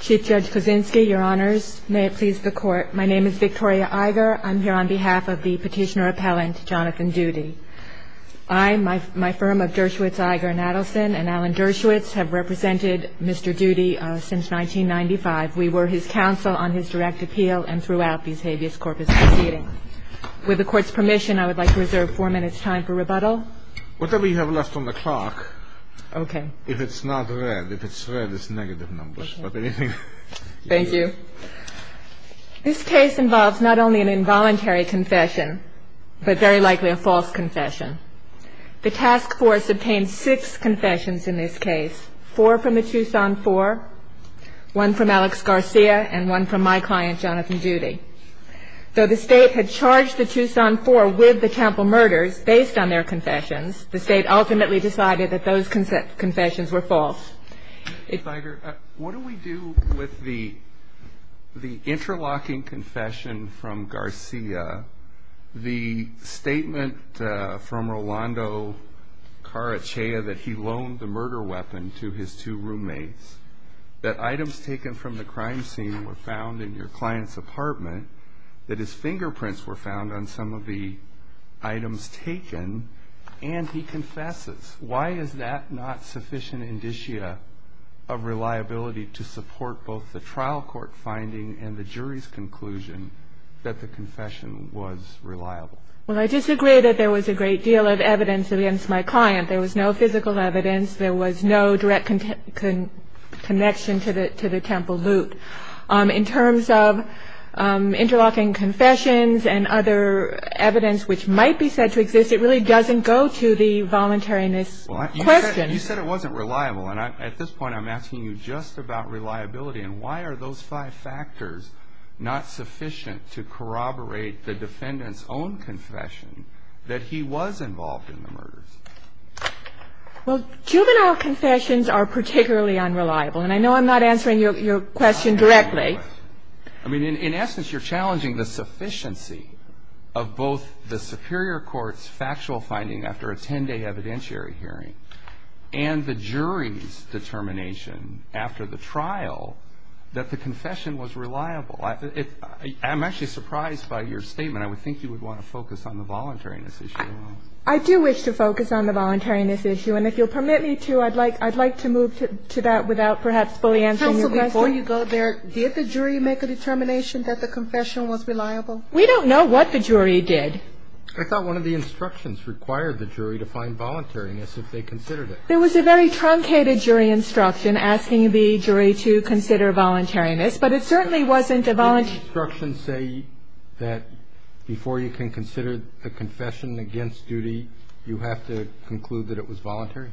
Chief Judge Kuczynski, Your Honors. May it please the Court. My name is Victoria Iger. I'm here on behalf of the petitioner-appellant, Jonathan Doody. I, my firm of Dershowitz, Iger & Adelson, and Alan Dershowitz have represented Mr. Doody since 1995. We were his counsel on his direct appeal and throughout these habeas corpus proceedings. With the Court's permission, I would like to reserve four minutes' time for rebuttal. Whatever you have left on the clock, if it's not red, if it's red, it's negative numbers. Thank you. This case involves not only an involuntary confession, but very likely a false confession. The task force obtained six confessions in this case, four from the Tucson Four, one from Alex Garcia, and one from my client, Jonathan Doody. Though the State had charged the Tucson Four with the Temple murders based on their confessions, the State ultimately decided that those confessions were false. Ms. Iger, what do we do with the interlocking confession from Garcia, the statement from Rolando Carachea that he loaned the murder weapon to his two roommates, that items taken from the crime scene were found in your client's apartment, that his fingerprints were found on some of the items taken, and he confesses? Why is that not sufficient indicia of reliability to support both the trial court finding and the jury's conclusion that the confession was reliable? Well, I disagree that there was a great deal of evidence against my client. There was no physical evidence. There was no direct connection to the Temple loot. In terms of interlocking confessions and other evidence which might be said to exist, it really doesn't go to the voluntariness question. You said it wasn't reliable, and at this point I'm asking you just about reliability. And why are those five factors not sufficient to corroborate the defendant's own confession that he was involved in the murders? Well, juvenile confessions are particularly unreliable, and I know I'm not answering your question directly. I mean, in essence, you're challenging the sufficiency of both the superior court's factual finding after a 10-day evidentiary hearing and the jury's determination after the trial that the confession was reliable. I'm actually surprised by your statement. I would think you would want to focus on the voluntariness issue. I do wish to focus on the voluntariness issue, and if you'll permit me to, I'd like to move to that without perhaps fully answering your question. Counsel, before you go there, did the jury make a determination that the confession was reliable? We don't know what the jury did. I thought one of the instructions required the jury to find voluntariness if they considered it. There was a very truncated jury instruction asking the jury to consider voluntariness, but it certainly wasn't a voluntariness. Didn't the instruction say that before you can consider a confession against duty, you have to conclude that it was voluntary?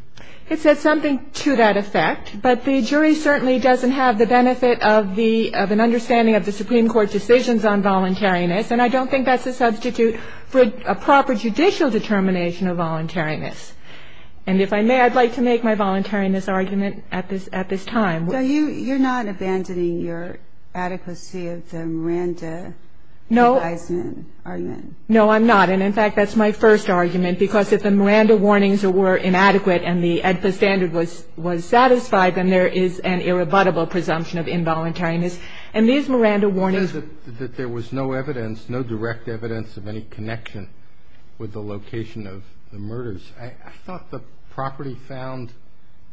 It said something to that effect, but the jury certainly doesn't have the benefit of an understanding of the Supreme Court decisions on voluntariness, and I don't think that's a substitute for a proper judicial determination of voluntariness. And if I may, I'd like to make my voluntariness argument at this time. So you're not abandoning your adequacy of the Miranda advisement argument? No, I'm not, and in fact, that's my first argument, because if the Miranda warnings were inadequate and the AEDPA standard was satisfied, then there is an irrebuttable presumption of involuntariness. And these Miranda warnings... It says that there was no evidence, no direct evidence of any connection with the location of the murders. I thought the property found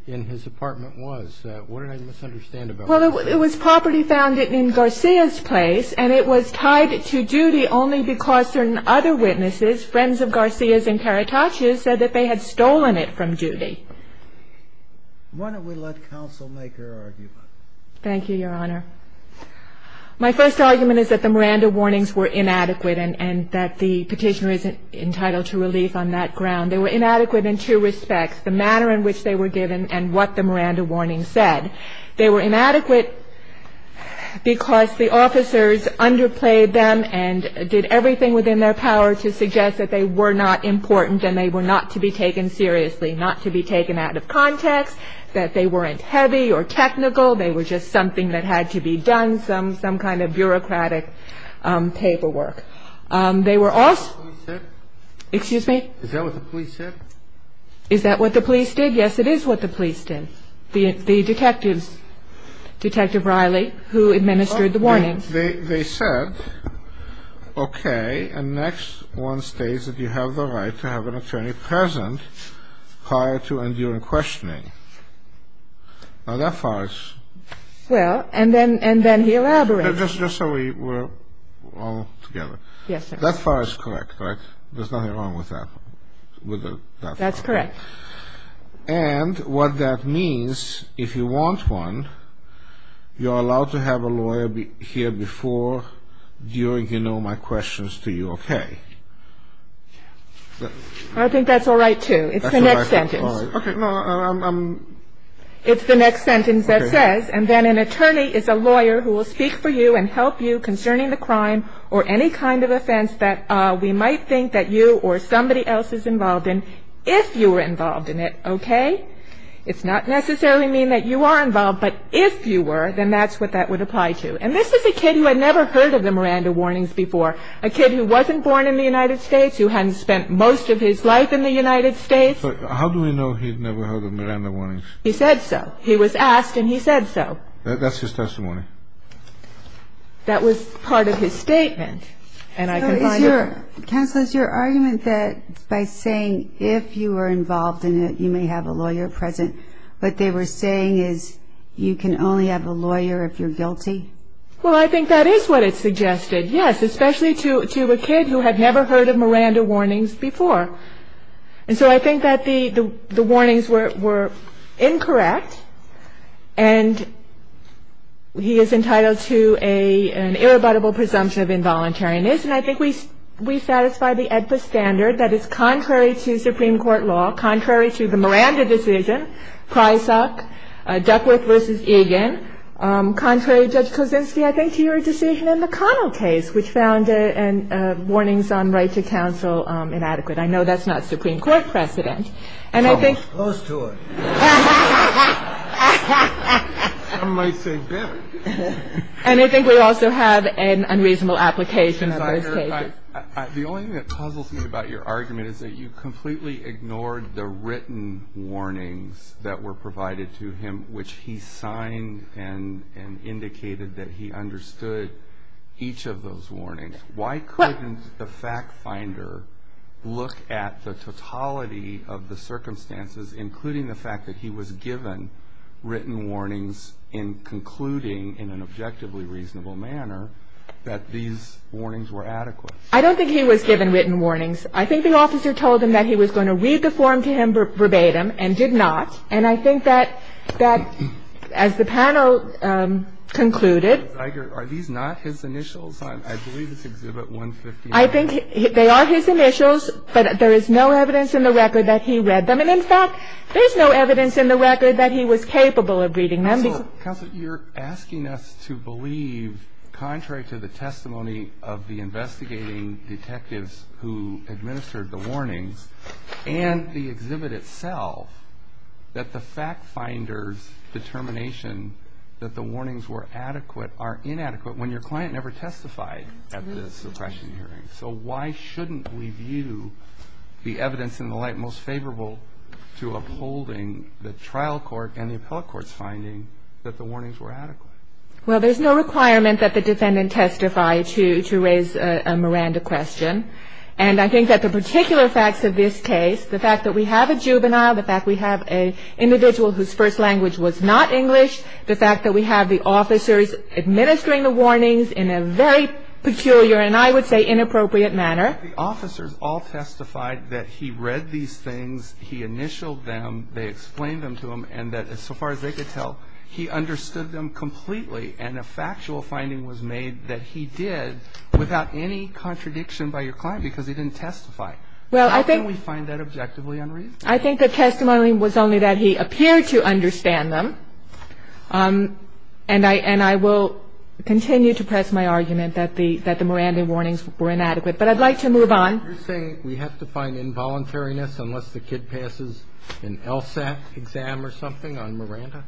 in his apartment was. What did I misunderstand about that? Well, it was property found in Garcia's place, and it was tied to duty only because certain other witnesses, friends of Garcia's and Caracas's, said that they had stolen it from duty. Why don't we let counsel make her argument? Thank you, Your Honor. My first argument is that the Miranda warnings were inadequate and that the Petitioner is entitled to relief on that ground. They were inadequate in two respects, the manner in which they were given and what the Miranda warnings said. They were inadequate because the officers underplayed them and did everything within their power to suggest that they were not important and they were not to be taken seriously, not to be taken out of context, that they weren't heavy or technical. They were just something that had to be done, some kind of bureaucratic paperwork. Is that what the police said? Excuse me? Is that what the police said? Is that what the police did? Yes, it is what the police did. The detectives, Detective Riley, who administered the warnings. They said, okay, and next one states that you have the right to have an attorney present prior to and during questioning. Now, that far is. Well, and then he elaborates. Just so we're all together. Yes, sir. That far is correct, right? There's nothing wrong with that. That's correct. And what that means, if you want one, you're allowed to have a lawyer here before, during, you know, my questions to you, okay? I think that's all right, too. It's the next sentence. It's the next sentence that says, and then an attorney is a lawyer who will speak for you and help you concerning the crime or any kind of offense that we might think that you or somebody else is involved in, if you were involved in it, okay? It's not necessarily mean that you are involved, but if you were, then that's what that would apply to. And this is a kid who had never heard of the Miranda warnings before, a kid who wasn't born in the United States, who hadn't spent most of his life in the United States. But how do we know he had never heard of Miranda warnings? He said so. He was asked, and he said so. That's his testimony. That was part of his statement. And I can find it. Counsel, is your argument that by saying if you were involved in it, you may have a lawyer present, what they were saying is you can only have a lawyer if you're guilty? Well, I think that is what it suggested, yes, especially to a kid who had never heard of Miranda warnings before. And so I think that the warnings were incorrect, and he is entitled to an irrebuttable presumption of involuntariness. And I think we satisfy the AEDPA standard that is contrary to Supreme Court law, contrary to the Miranda decision, Prysock, Duckworth v. Egan, contrary, Judge Kosinski, I think, to your decision in the Connell case, which found warnings on right to counsel inadequate. I know that's not Supreme Court precedent. Almost. Close to it. Some might say better. And I think we also have an unreasonable application of those cases. The only thing that puzzles me about your argument is that you completely ignored the written warnings that were provided to him, which he signed and indicated that he understood each of those warnings. Why couldn't the fact finder look at the totality of the circumstances, including the fact that he was given written warnings in concluding, in an objectively reasonable manner, that these warnings were adequate? I don't think he was given written warnings. I think the officer told him that he was going to read the form to him verbatim and did not. And I think that as the panel concluded. Are these not his initials? I believe it's Exhibit 159. I think they are his initials, but there is no evidence in the record that he read them. And, in fact, there's no evidence in the record that he was capable of reading them. Counsel, you're asking us to believe, contrary to the testimony of the investigating detectives who administered the warnings and the exhibit itself, that the fact finder's determination that the warnings were adequate are inadequate when your client never testified at the suppression hearing. So why shouldn't we view the evidence in the light most favorable to upholding the trial court and the appellate court's finding that the warnings were adequate? Well, there's no requirement that the defendant testify to raise a Miranda question. And I think that the particular facts of this case, the fact that we have a juvenile, the fact we have an individual whose first language was not English, the fact that we have the officers administering the warnings in a very peculiar and I would say inappropriate manner. But the officers all testified that he read these things, he initialed them, they explained them to him, and that, as far as they could tell, he understood them completely. And a factual finding was made that he did without any contradiction by your client because he didn't testify. Well, I think we find that objectively unreasonable. I think the testimony was only that he appeared to understand them. And I will continue to press my argument that the Miranda warnings were inadequate. But I'd like to move on. You're saying we have to find involuntariness unless the kid passes an LSAT exam or something on Miranda?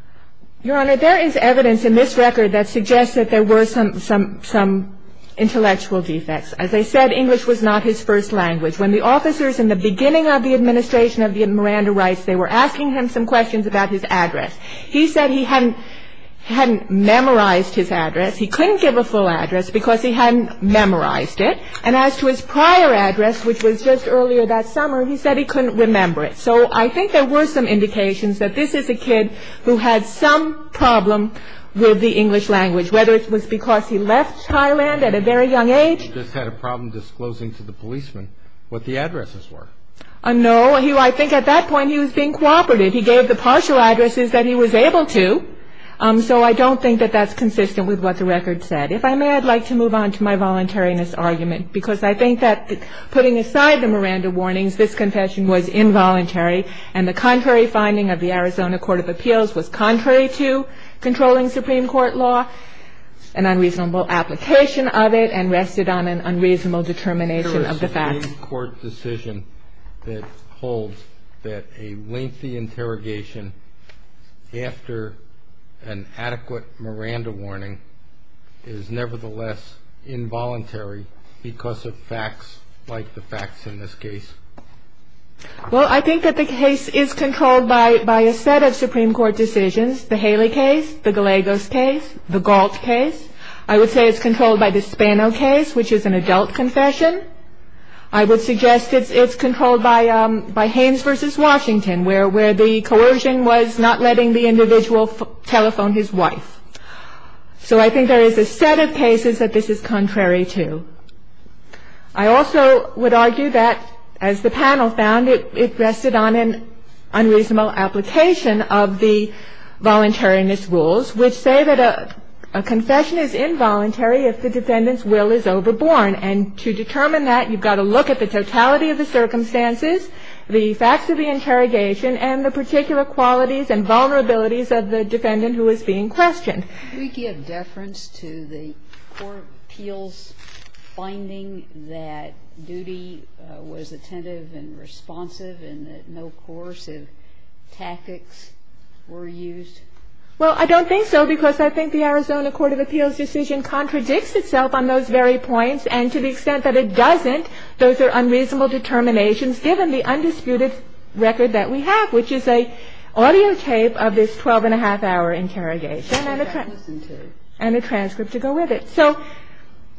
Your Honor, there is evidence in this record that suggests that there were some intellectual defects. As I said, English was not his first language. When the officers in the beginning of the administration of Miranda Rice, they were asking him some questions about his address. He said he hadn't memorized his address. He couldn't give a full address because he hadn't memorized it. And as to his prior address, which was just earlier that summer, he said he couldn't remember it. So I think there were some indications that this is a kid who had some problem with the English language, whether it was because he left Thailand at a very young age. So I don't think English just had a problem disclosing to the policeman what the addresses were. No. I think at that point he was being cooperative. He gave the partial addresses that he was able to. So I don't think that that's consistent with what the record said. If I may, I'd like to move on to my voluntariness argument, because I think that putting aside the Miranda warnings, this confession was involuntary, and the contrary finding of the Arizona Court of Appeals was contrary to controlling Supreme Court law, an unreasonable application of it, and rested on an unreasonable determination of the facts. Is there a Supreme Court decision that holds that a lengthy interrogation after an adequate Miranda warning is nevertheless involuntary because of facts like the facts in this case? Well, I think that the case is controlled by a set of Supreme Court decisions, the Haley case, the Gallegos case, the Galt case. I would say it's controlled by the Spano case, which is an adult confession. I would suggest it's controlled by Haynes v. Washington, where the coercion was not letting the individual telephone his wife. So I think there is a set of cases that this is contrary to. I also would argue that, as the panel found, it rested on an unreasonable application of the voluntariness rules, which say that a confession is involuntary if the defendant's will is overborne. And to determine that, you've got to look at the totality of the circumstances, the facts of the interrogation, and the particular qualities and vulnerabilities of the defendant who is being questioned. Can we give deference to the Court of Appeals finding that duty was attentive and responsive and that no coercive tactics were used? Well, I don't think so because I think the Arizona Court of Appeals decision contradicts itself on those very points. And to the extent that it doesn't, those are unreasonable determinations given the undisputed record that we have, which is an audio tape of this 12-and-a-half hour interrogation. And a transcript to go with it. So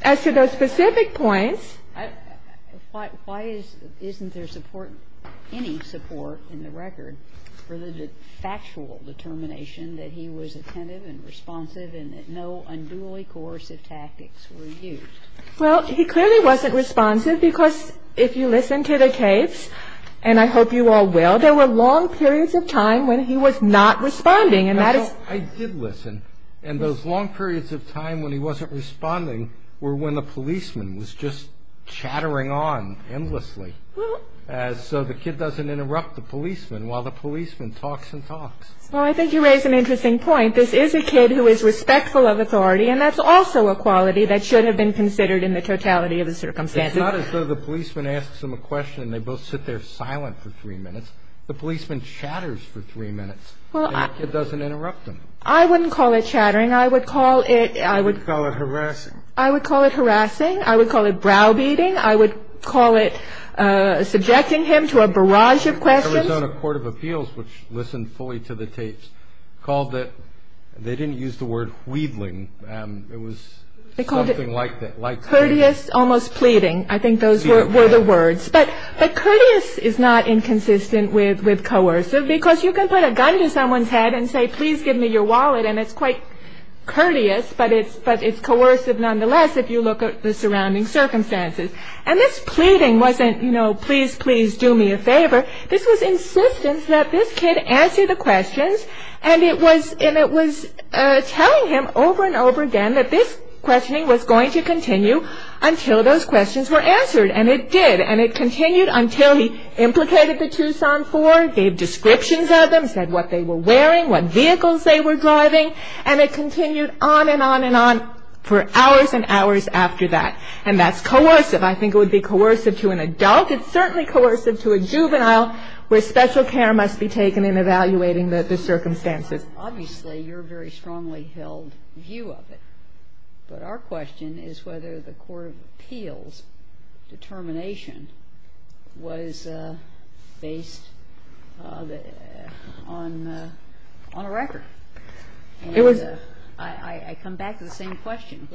as to those specific points ---- Why isn't there support, any support in the record for the factual determination that he was attentive and responsive and that no unduly coercive tactics were used? Well, he clearly wasn't responsive because if you listen to the case, and I hope you all will, there were long periods of time when he was not responding. And that is ---- I did listen. And those long periods of time when he wasn't responding were when the policeman was just chattering on endlessly so the kid doesn't interrupt the policeman while the policeman talks and talks. Well, I think you raise an interesting point. This is a kid who is respectful of authority, and that's also a quality that should have been considered in the totality of the circumstances. It's not as though the policeman asks them a question and they both sit there silent for three minutes. The policeman chatters for three minutes. Well, I ---- And the kid doesn't interrupt them. I wouldn't call it chattering. I would call it ---- I would call it harassing. I would call it harassing. I would call it browbeating. I would call it subjecting him to a barrage of questions. The Arizona Court of Appeals, which listened fully to the tapes, called it ---- they didn't use the word weedling. It was something like ---- They called it courteous, almost pleading. I think those were the words. But courteous is not inconsistent with coercive because you can put a gun to someone's head and say, please give me your wallet, and it's quite courteous, but it's coercive nonetheless if you look at the surrounding circumstances. And this pleading wasn't, you know, please, please do me a favor. This was insistence that this kid answer the questions, and it was telling him over and over again that this questioning was going to continue until those questions were answered, and it did. And it continued until he implicated the Tucson Four, gave descriptions of them, said what they were wearing, what vehicles they were driving, and it continued on and on and on for hours and hours after that. And that's coercive. I think it would be coercive to an adult. It's certainly coercive to a juvenile where special care must be taken in evaluating the circumstances. Obviously, you're very strongly held view of it, but our question is whether the court of appeals determination was based on a record. And I come back to the same question.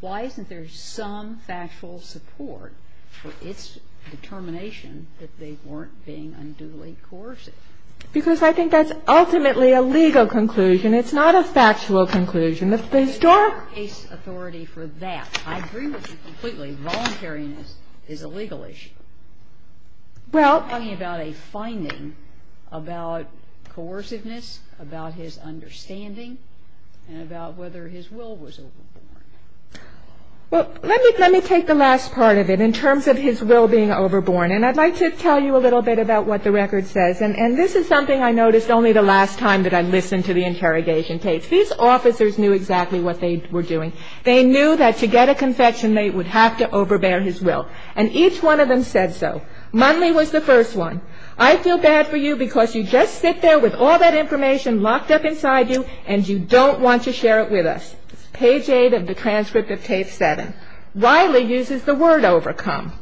Why isn't there some factual support for its determination that they weren't being unduly coercive? Because I think that's ultimately a legal conclusion. It's not a factual conclusion. The historical case authority for that. I agree with you completely. Voluntariness is a legal issue. We're talking about a finding about coerciveness, about his understanding, and about whether his will was overborn. Well, let me take the last part of it in terms of his will being overborn. And I'd like to tell you a little bit about what the record says. And this is something I noticed only the last time that I listened to the interrogation tapes. These officers knew exactly what they were doing. They knew that to get a confession, they would have to overbear his will. And each one of them said so. Munley was the first one. I feel bad for you because you just sit there with all that information locked up inside you, and you don't want to share it with us. Page 8 of the transcript of tape 7. Wiley uses the word overcome.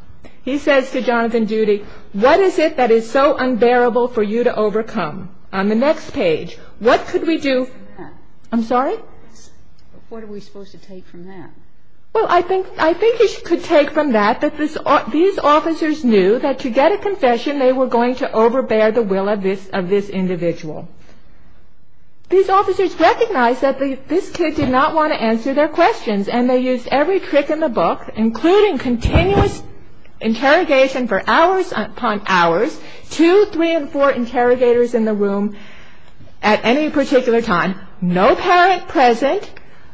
He says to Jonathan Doody, what is it that is so unbearable for you to overcome? On the next page, what could we do? I'm sorry? What are we supposed to take from that? Well, I think you could take from that that these officers knew that to get a confession, they were going to overbear the will of this individual. These officers recognized that this kid did not want to answer their questions, and they used every trick in the book, including continuous interrogation for hours upon hours, two, three, and four interrogators in the room at any particular time, no parent present,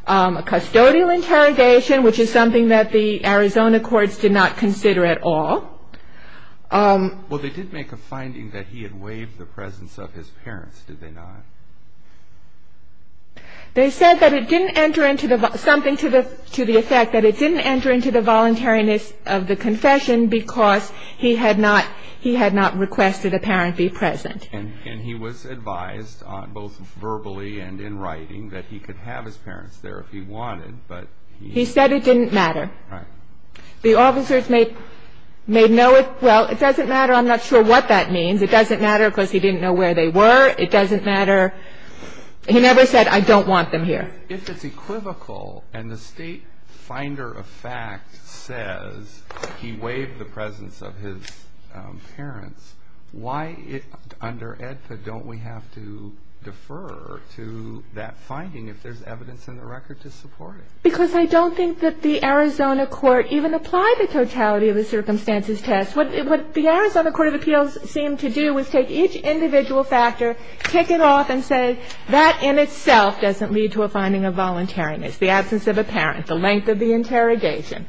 custodial interrogation, which is something that the Arizona courts did not consider at all. Well, they did make a finding that he had waived the presence of his parents, did they not? They said that it didn't enter into the, something to the effect that it didn't enter into the voluntariness of the confession because he had not requested a parent be present. And he was advised, both verbally and in writing, that he could have his parents there if he wanted, but he... He said it didn't matter. Right. The officers may know it, well, it doesn't matter, I'm not sure what that means. It doesn't matter because he didn't know where they were. It doesn't matter. He never said, I don't want them here. If it's equivocal and the state finder of fact says he waived the presence of his parents, why under AEDPA don't we have to defer to that finding if there's evidence in the record to support it? Because I don't think that the Arizona court even applied the totality of the circumstances test. What the Arizona court of appeals seemed to do was take each individual factor, kick it off and say that in itself doesn't lead to a finding of voluntariness, the absence of a parent, the length of the interrogation.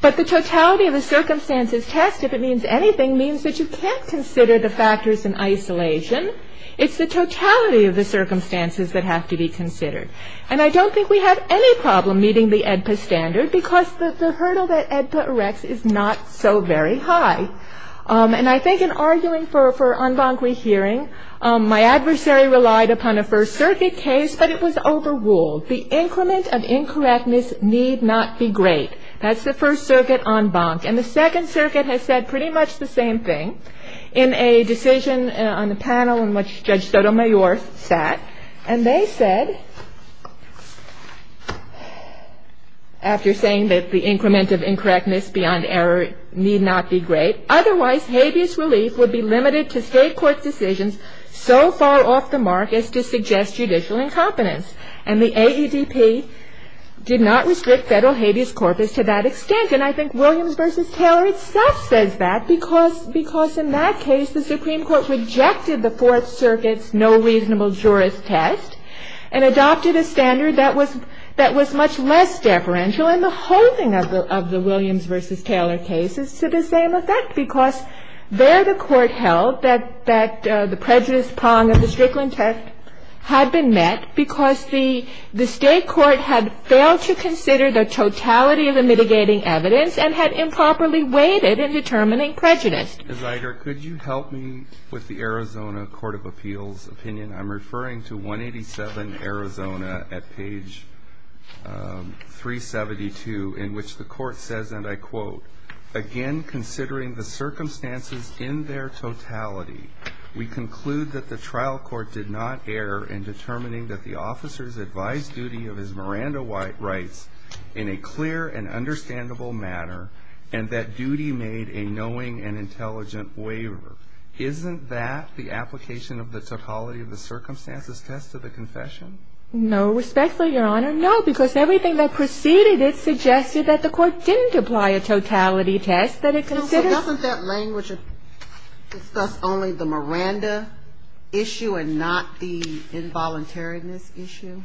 But the totality of the circumstances test, if it means anything, means that you can't consider the factors in isolation. It's the totality of the circumstances that have to be considered. And I don't think we have any problem meeting the AEDPA standard because the hurdle that AEDPA erects is not so very high. And I think in arguing for en banc rehearing, my adversary relied upon a First Circuit case, but it was overruled. The increment of incorrectness need not be great. That's the First Circuit en banc. And the Second Circuit has said pretty much the same thing in a decision on the panel in which Judge Sotomayor sat. And they said, after saying that the increment of incorrectness beyond error need not be great, otherwise habeas relief would be limited to state court decisions so far off the mark as to suggest judicial incompetence. And the AEDP did not restrict federal habeas corpus to that extent. And I think Williams v. Taylor itself says that because in that case, the Supreme Court rejected the Fourth Circuit's no reasonable jurist test and adopted a standard that was much less deferential, and the holding of the Williams v. Taylor case is to the same effect because there the Court held that the prejudice prong of the Strickland test had been met because the state court had failed to consider the totality of the mitigating evidence and had improperly weighted in determining prejudice. Ms. Iger, could you help me with the Arizona Court of Appeals opinion? I'm referring to 187, Arizona, at page 372, in which the Court says, and I quote, Again, considering the circumstances in their totality, we conclude that the trial court did not err in determining that the officer's advised duty of his Miranda rights in a clear and understandable matter, and that duty made a knowing and intelligent waiver. Isn't that the application of the totality of the circumstances test of the confession? No, respectfully, Your Honor. No, because everything that preceded it suggested that the Court didn't apply a totality test that it considered. So doesn't that language discuss only the Miranda issue and not the involuntariness issue?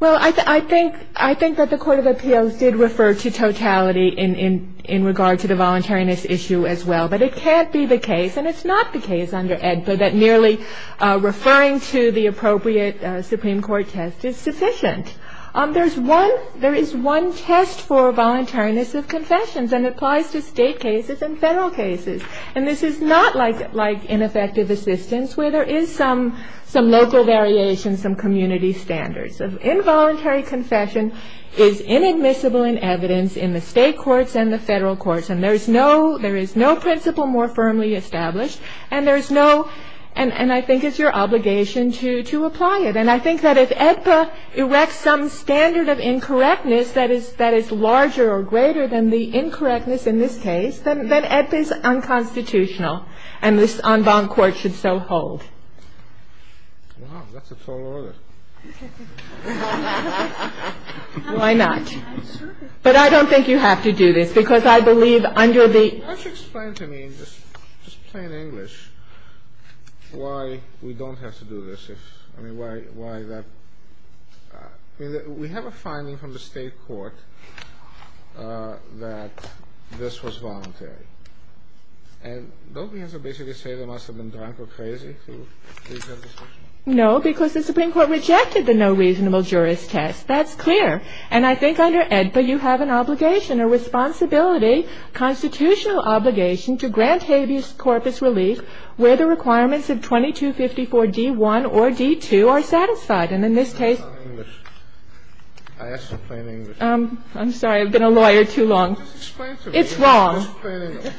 Well, I think that the Court of Appeals did refer to totality in regard to the voluntariness issue as well. But it can't be the case, and it's not the case under AEDPA, that merely referring to the appropriate Supreme Court test is sufficient. There is one test for voluntariness of confessions, and it applies to state cases and Federal cases. And this is not like ineffective assistance where there is some local variation, some community standards. An involuntary confession is inadmissible in evidence in the state courts and the Federal courts, and there is no principle more firmly established, and there is no – and I think it's your obligation to apply it. And I think that if AEDPA erects some standard of incorrectness that is larger or greater than the incorrectness in this case, then AEDPA is unconstitutional, and this en banc court should so hold. Wow, that's a tall order. Why not? But I don't think you have to do this, because I believe under the – Why don't you explain to me, just plain English, why we don't have to do this? I mean, why that – I mean, we have a finding from the state court that this was voluntary. And don't we have to basically say they must have been drunk or crazy to do this? No, because the Supreme Court rejected the no reasonable jurist test. That's clear. And I think under AEDPA, you have an obligation, a responsibility, constitutional obligation to grant habeas corpus relief where the requirements of 2254 D.1 or D.2 are satisfied. And in this case – That's not English. I asked you plain English. I'm sorry. I've been a lawyer too long. Just explain to me. It's wrong. Just plain English.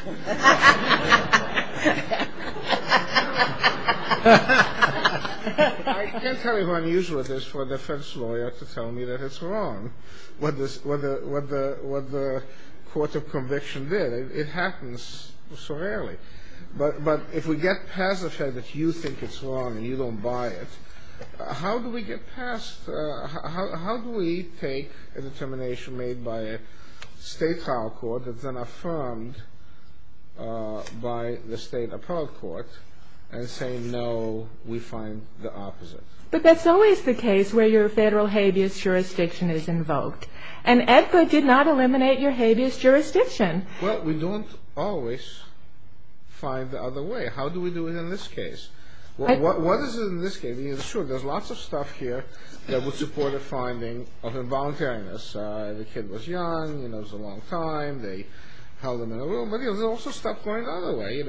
I can't tell you how unusual it is for a defense lawyer to tell me that it's wrong, what the court of conviction did. It happens so rarely. But if we get past the fact that you think it's wrong and you don't buy it, how do we get past – But that's always the case where your federal habeas jurisdiction is invoked. And AEDPA did not eliminate your habeas jurisdiction. Well, we don't always find the other way. How do we do it in this case? What is it in this case? There's lots of stuff here that would support a finding of involuntariness. The kid was young. It was a long time. They held him in a room. But there's also stuff going the other way.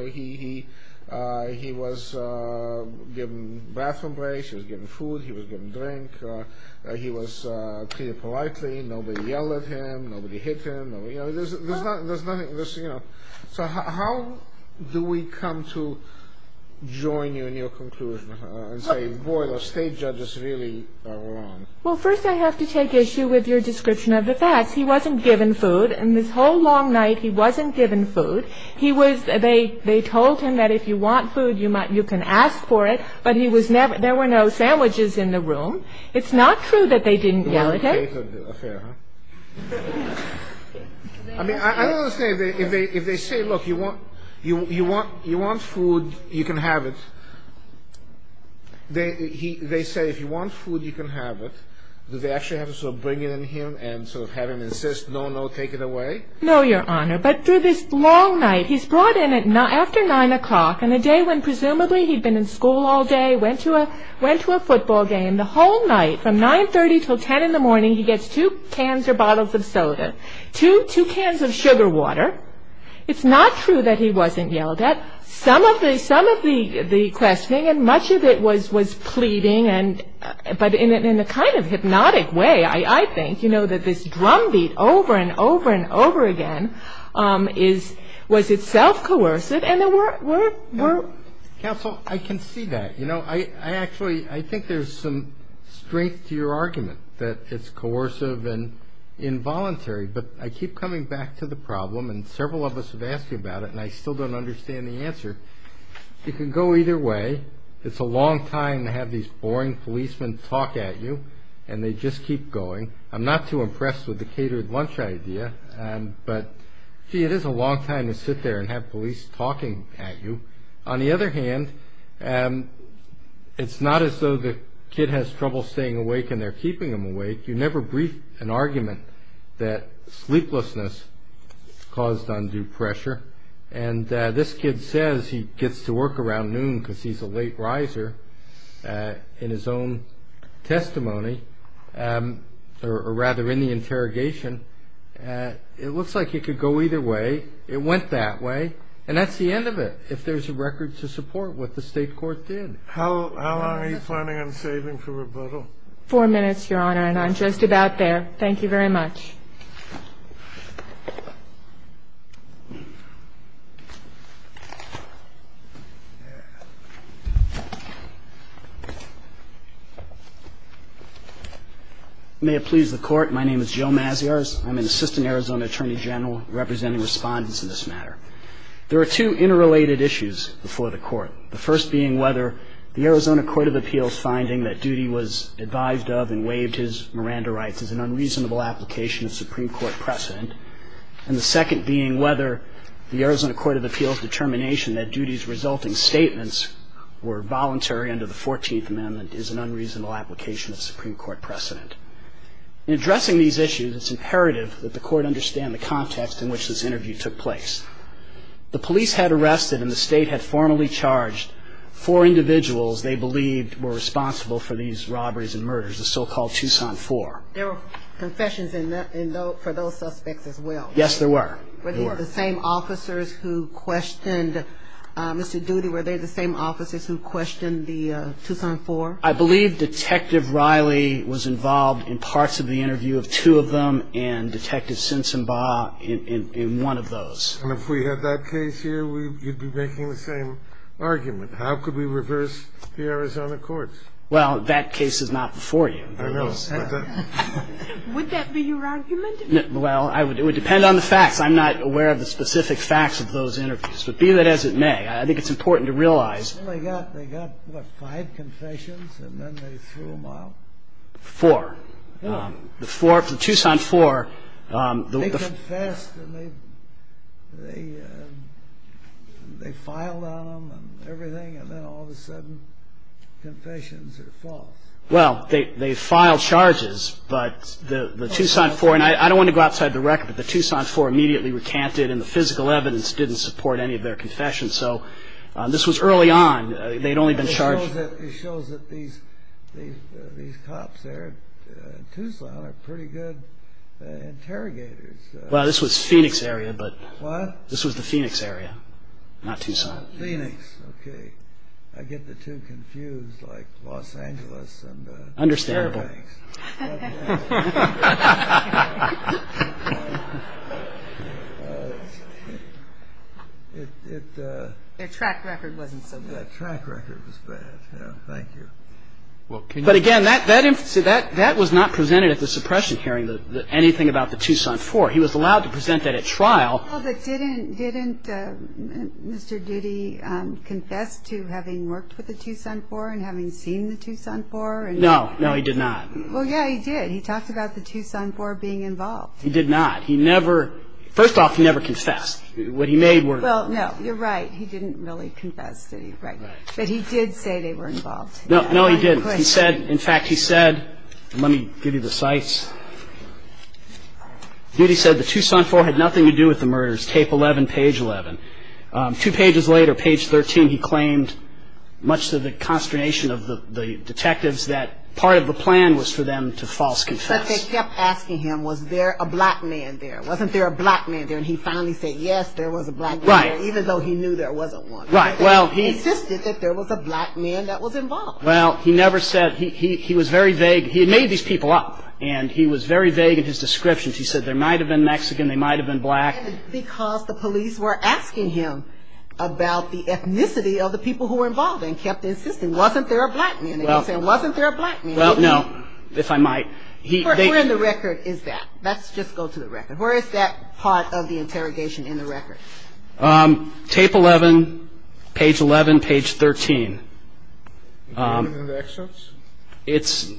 He was given bathroom breaks. He was given food. He was given drink. He was treated politely. Nobody yelled at him. Nobody hit him. There's nothing – So how do we come to join you in your conclusion and say, boy, the state judge is really wrong? Well, first I have to take issue with your description of the facts. He wasn't given food. And this whole long night, he wasn't given food. He was – they told him that if you want food, you can ask for it. But he was never – there were no sandwiches in the room. It's not true that they didn't yell at him. It was a catered affair, huh? I mean, I don't understand. If they say, look, you want food, you can have it. They say, if you want food, you can have it. Do they actually have to sort of bring it in here and sort of have him insist, no, no, take it away? No, Your Honor. But through this long night, he's brought in after 9 o'clock on a day when presumably he'd been in school all day, went to a football game. The whole night from 9.30 until 10 in the morning, he gets two cans or bottles of soda, two cans of sugar water. It's not true that he wasn't yelled at. Some of the questioning and much of it was pleading, but in a kind of hypnotic way, I think, you know, that this drumbeat over and over and over again was itself coercive. And there were – Counsel, I can see that. You know, I actually – I think there's some strength to your argument that it's coercive and involuntary. But I keep coming back to the problem. And several of us have asked you about it, and I still don't understand the answer. You can go either way. It's a long time to have these boring policemen talk at you, and they just keep going. I'm not too impressed with the catered lunch idea. But, gee, it is a long time to sit there and have police talking at you. On the other hand, it's not as though the kid has trouble staying awake and they're keeping him awake. You never brief an argument that sleeplessness caused undue pressure. And this kid says he gets to work around noon because he's a late riser in his own testimony, or rather in the interrogation. It looks like it could go either way. It went that way. And that's the end of it if there's a record to support what the state court did. How long are you planning on saving for rebuttal? Four minutes, Your Honor, and I'm just about there. Thank you very much. May it please the Court. My name is Joe Maziarz. I'm an assistant Arizona attorney general representing respondents in this matter. There are two interrelated issues before the Court, the first being whether the Arizona Court of Appeals finding that Doody was advised of and waived his Miranda rights is an unreasonable application of Supreme Court precedent, and the second being whether the Arizona Court of Appeals determination that Doody's resulting statements were voluntary under the 14th Amendment is an unreasonable application of Supreme Court precedent. In addressing these issues, it's imperative that the Court understand the context in which this interview took place. The police had arrested and the state had formally charged four individuals they believed were responsible for these robberies and murders, the so-called Tucson Four. There were confessions for those suspects as well. Yes, there were. Were they the same officers who questioned Mr. Doody? Were they the same officers who questioned the Tucson Four? I believe Detective Riley was involved in parts of the interview of two of them and Detective Sinsomba in one of those. And if we had that case here, you'd be making the same argument. How could we reverse the Arizona courts? Well, that case is not before you. I know. Would that be your argument? Well, it would depend on the facts. I'm not aware of the specific facts of those interviews, but be that as it may, I think it's important to realize. They got, what, five confessions and then they threw them out? Four. The Tucson Four. They confessed and they filed on them and everything, and then all of a sudden confessions are false. Well, they filed charges, but the Tucson Four, and I don't want to go outside the record, but the Tucson Four immediately recanted and the physical evidence didn't support any of their confessions. So this was early on. They'd only been charged. It shows that these cops there in Tucson are pretty good interrogators. Well, this was Phoenix area, but this was the Phoenix area, not Tucson. Phoenix, okay. I get the two confused, like Los Angeles and Fairbanks. Understandable. Their track record wasn't so good. Their track record was bad, yeah. Thank you. But again, that was not presented at the suppression hearing, anything about the Tucson Four. He was allowed to present that at trial. Didn't Mr. Diddy confess to having worked with the Tucson Four and having seen the Tucson Four? No, no, he did not. Well, yeah, he did. He talked about the Tucson Four being involved. He did not. He never, first off, he never confessed. What he made were... Well, no, you're right. He didn't really confess, Diddy, right. But he did say they were involved. No, he didn't. He said, in fact, he said, let me give you the cites. Diddy said the Tucson Four had nothing to do with the murders, tape 11, page 11. Two pages later, page 13, he claimed, much to the consternation of the detectives, that part of the plan was for them to false confess. But they kept asking him, was there a black man there? Wasn't there a black man there? And he finally said, yes, there was a black man there. Even though he knew there wasn't one. Right. Well, he... He insisted that there was a black man that was involved. Well, he never said... He was very vague. He made these people up, and he was very vague in his descriptions. He said there might have been Mexican. They might have been black. Because the police were asking him about the ethnicity of the people who were involved and kept insisting, wasn't there a black man? They kept saying, wasn't there a black man? Well, no, if I might. Where in the record is that? Let's just go to the record. Where is that part of the interrogation in the record? Tape 11, page 11, page 13. In the excerpts?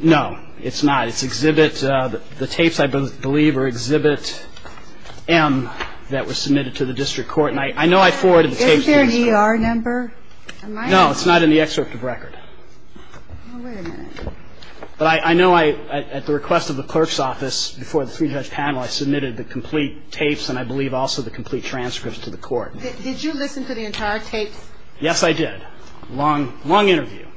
No, it's not. It's exhibit... The tapes, I believe, are exhibit M that was submitted to the district court. And I know I forwarded the tapes... Isn't there an ER number? No, it's not in the excerpt of record. Well, wait a minute. But I know at the request of the clerk's office before the three-judge panel, I submitted the complete tapes and I believe also the complete transcripts to the court. Did you listen to the entire tapes? Yes, I did. Long interview.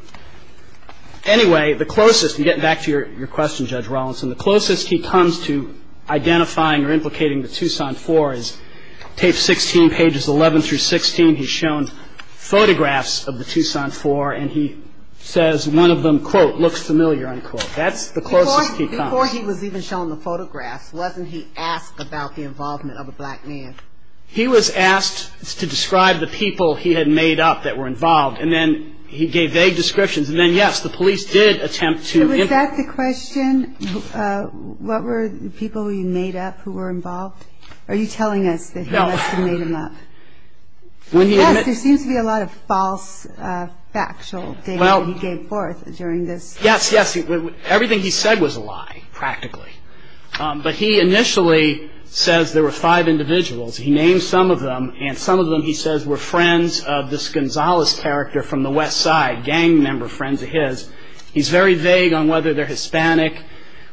Anyway, the closest, and getting back to your question, Judge Rawlinson, the closest he comes to identifying or implicating the Tucson Four is tape 16, pages 11 through 16. He's shown photographs of the Tucson Four, and he says one of them, quote, looks familiar, unquote. That's the closest he comes. Before he was even shown the photographs, wasn't he asked about the involvement of a black man? He was asked to describe the people he had made up that were involved, and then he gave vague descriptions. And then, yes, the police did attempt to... Was that the question? What were the people he made up who were involved? Are you telling us that he must have made them up? Yes, there seems to be a lot of false factual data that he gave forth during this... Yes, yes, everything he said was a lie, practically. But he initially says there were five individuals. He named some of them, and some of them, he says, were friends of this Gonzales character from the west side, gang member, friends of his. He's very vague on whether they're Hispanic,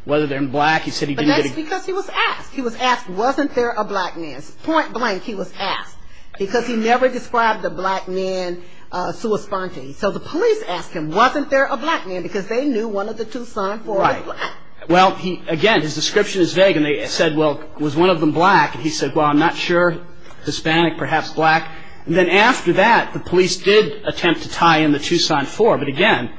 whether they're black. He said he didn't get a... But that's because he was asked. He was asked, wasn't there a black man? Point blank, he was asked, because he never described a black man, a sua sponte. So the police asked him, wasn't there a black man? Because they knew one of the Tucson Four was black. Right. Well, again, his description is vague. And they said, well, was one of them black? And he said, well, I'm not sure, Hispanic, perhaps black. And then after that, the police did attempt to tie in the Tucson Four. But, again,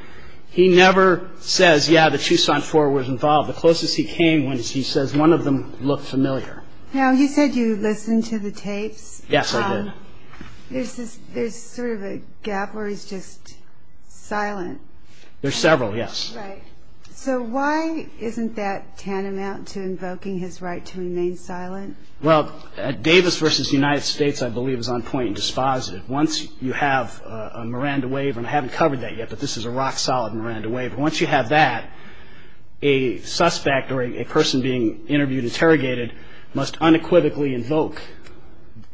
he never says, yeah, the Tucson Four was involved. The closest he came when he says one of them looked familiar. Now, you said you listened to the tapes. Yes, I did. There's sort of a gap where he's just silent. There's several, yes. Right. So why isn't that tantamount to invoking his right to remain silent? Well, Davis v. United States, I believe, is on point and dispositive. Once you have a Miranda waiver, and I haven't covered that yet, but this is a rock-solid Miranda waiver. Once you have that, a suspect or a person being interviewed, interrogated, must unequivocally invoke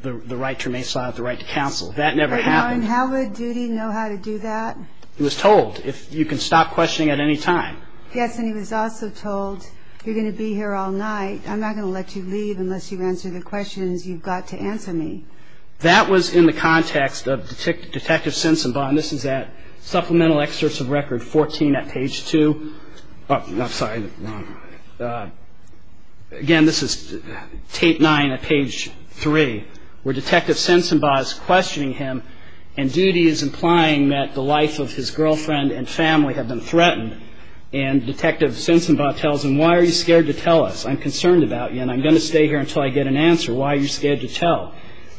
the right to remain silent, the right to counsel. That never happened. How would Doody know how to do that? He was told, if you can stop questioning at any time. Yes, and he was also told, you're going to be here all night. I'm not going to let you leave unless you answer the questions you've got to answer me. That was in the context of Detective Sensenbaum. This is at Supplemental Excerpts of Record 14 at page 2. Sorry. Again, this is tape 9 at page 3, where Detective Sensenbaum is questioning him, and Doody is implying that the life of his girlfriend and family have been threatened. And Detective Sensenbaum tells him, why are you scared to tell us? I'm concerned about you, and I'm going to stay here until I get an answer. Why are you scared to tell?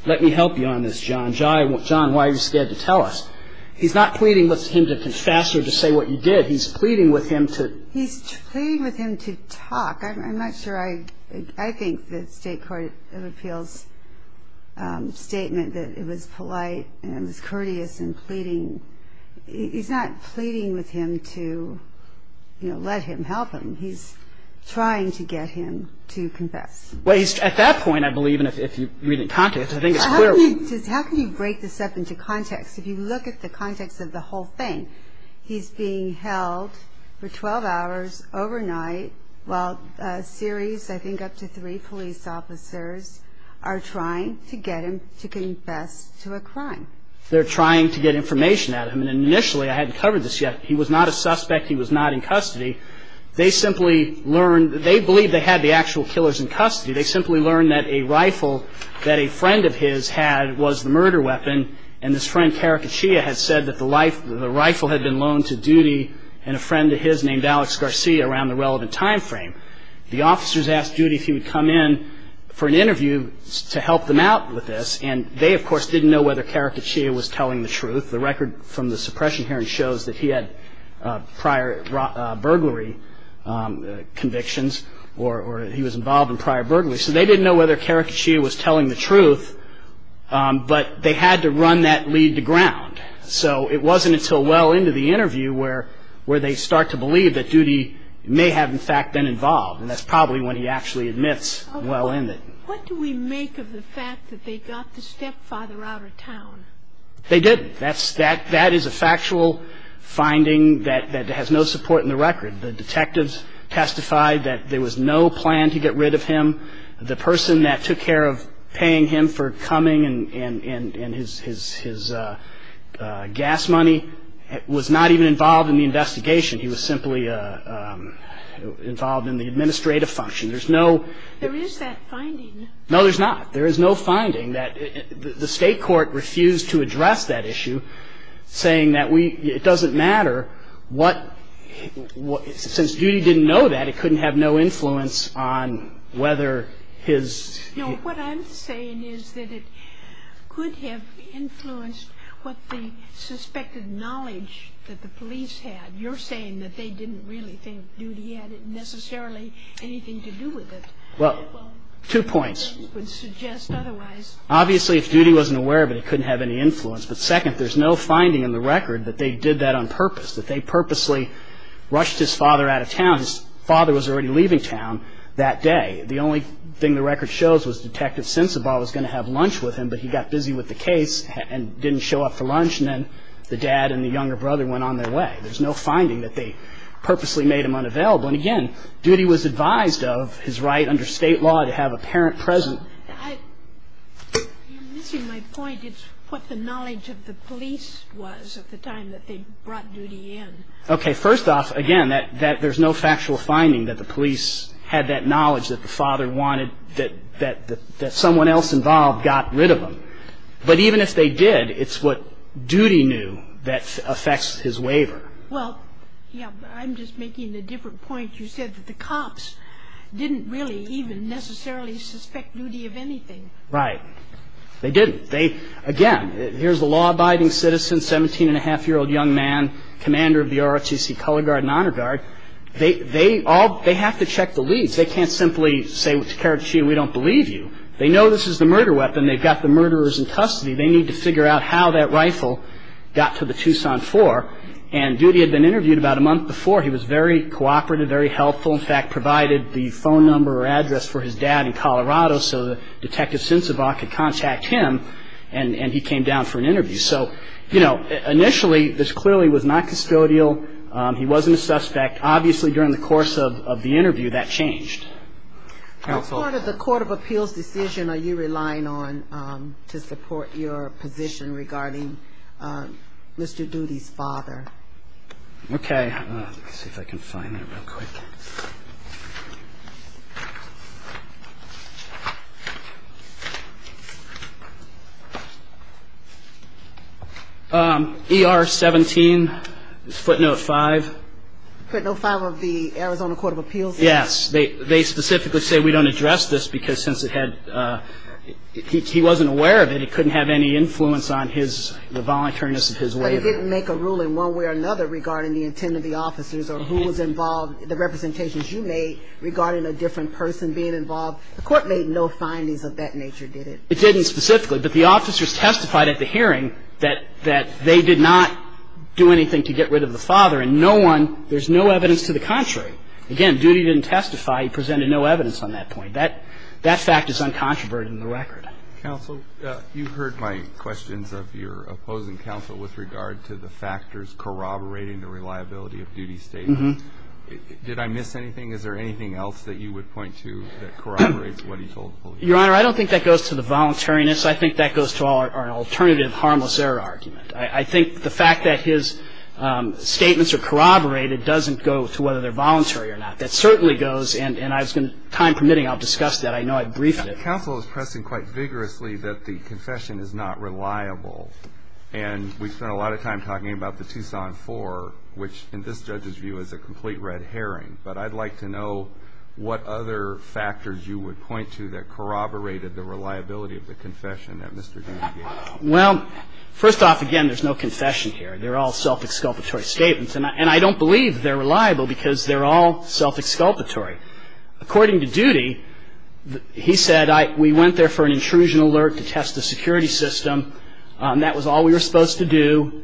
Let me help you on this, John. John, why are you scared to tell us? He's not pleading with him to confess or to say what you did. He's pleading with him to... He's pleading with him to talk. I'm not sure I think the State Court of Appeals statement that it was polite and it was courteous in pleading. He's not pleading with him to, you know, let him help him. He's trying to get him to confess. Well, at that point, I believe, and if you read it in context, I think it's clear... How can you break this up into context? If you look at the context of the whole thing, he's being held for 12 hours overnight while a series, I think up to three police officers, are trying to get him to confess to a crime. They're trying to get information out of him, and initially, I hadn't covered this yet, he was not a suspect, he was not in custody. They simply learned, they believed they had the actual killers in custody. They simply learned that a rifle that a friend of his had was the murder weapon, and this friend Karakachia had said that the rifle had been loaned to Duty and a friend of his named Alex Garcia around the relevant time frame. The officers asked Duty if he would come in for an interview to help them out with this, and they, of course, didn't know whether Karakachia was telling the truth. The record from the suppression hearing shows that he had prior burglary convictions or he was involved in prior burglary. So they didn't know whether Karakachia was telling the truth, but they had to run that lead to ground. So it wasn't until well into the interview where they start to believe that Duty may have, in fact, been involved, and that's probably when he actually admits well in it. What do we make of the fact that they got the stepfather out of town? They didn't. That is a factual finding that has no support in the record. The detectives testified that there was no plan to get rid of him. The person that took care of paying him for coming and his gas money was not even involved in the investigation. He was simply involved in the administrative function. There is that finding. No, there's not. There is no finding. The state court refused to address that issue, saying that it doesn't matter. Since Duty didn't know that, it couldn't have no influence on whether his... No, what I'm saying is that it could have influenced what the suspected knowledge that the police had. You're saying that they didn't really think Duty had necessarily anything to do with it. Well, two points. It would suggest otherwise. Obviously, if Duty wasn't aware of it, it couldn't have any influence. But second, there's no finding in the record that they did that on purpose, that they purposely rushed his father out of town. His father was already leaving town that day. The only thing the record shows was Detective Sensabaugh was going to have lunch with him, but he got busy with the case and didn't show up for lunch, and then the dad and the younger brother went on their way. There's no finding that they purposely made him unavailable. And again, Duty was advised of his right under state law to have a parent present. You're missing my point. It's what the knowledge of the police was at the time that they brought Duty in. Okay, first off, again, there's no factual finding that the police had that knowledge that the father wanted, that someone else involved got rid of him. But even if they did, it's what Duty knew that affects his waiver. Well, yeah, but I'm just making a different point. You said that the cops didn't really even necessarily suspect Duty of anything. Right. They didn't. Again, here's a law-abiding citizen, 17-and-a-half-year-old young man, commander of the ROTC Color Guard and Honor Guard. They have to check the leads. They can't simply say, well, Takarachi, we don't believe you. They know this is the murder weapon. They've got the murderers in custody. They need to figure out how that rifle got to the Tucson 4. And Duty had been interviewed about a month before. He was very cooperative, very helpful. In fact, provided the phone number or address for his dad in Colorado, so that Detective Sensabaugh could contact him, and he came down for an interview. So, you know, initially, this clearly was not custodial. He wasn't a suspect. Obviously, during the course of the interview, that changed. What part of the court of appeals decision are you relying on to support your position regarding Mr. Duty's father? Okay. Let's see if I can find that real quick. ER 17, footnote 5. Footnote 5 of the Arizona Court of Appeals? Yes. They specifically say we don't address this because since it had – he wasn't aware of it. He couldn't have any influence on his – the voluntariness of his way there. But it didn't make a rule in one way or another regarding the intent of the officers or who was involved – the representations you made regarding a different person being involved? The court made no findings of that nature, did it? It didn't specifically. But the officers testified at the hearing that they did not do anything to get rid of the father. And no one – there's no evidence to the contrary. Again, Duty didn't testify. He presented no evidence on that point. That fact is uncontroverted in the record. Counsel, you've heard my questions of your opposing counsel with regard to the factors corroborating the reliability of Duty's statement. Did I miss anything? Is there anything else that you would point to that corroborates what he told the police? Your Honor, I don't think that goes to the voluntariness. I think that goes to our alternative harmless error argument. I think the fact that his statements are corroborated doesn't go to whether they're voluntary or not. That certainly goes – and I was going to – time permitting, I'll discuss that. I know I briefed it. Counsel is pressing quite vigorously that the confession is not reliable. And we spent a lot of time talking about the Tucson 4, which in this judge's view is a complete red herring. But I'd like to know what other factors you would point to that corroborated the reliability of the confession that Mr. Duty gave. Well, first off, again, there's no confession here. They're all self-exculpatory statements. And I don't believe they're reliable because they're all self-exculpatory. According to Duty, he said, we went there for an intrusion alert to test the security system. That was all we were supposed to do.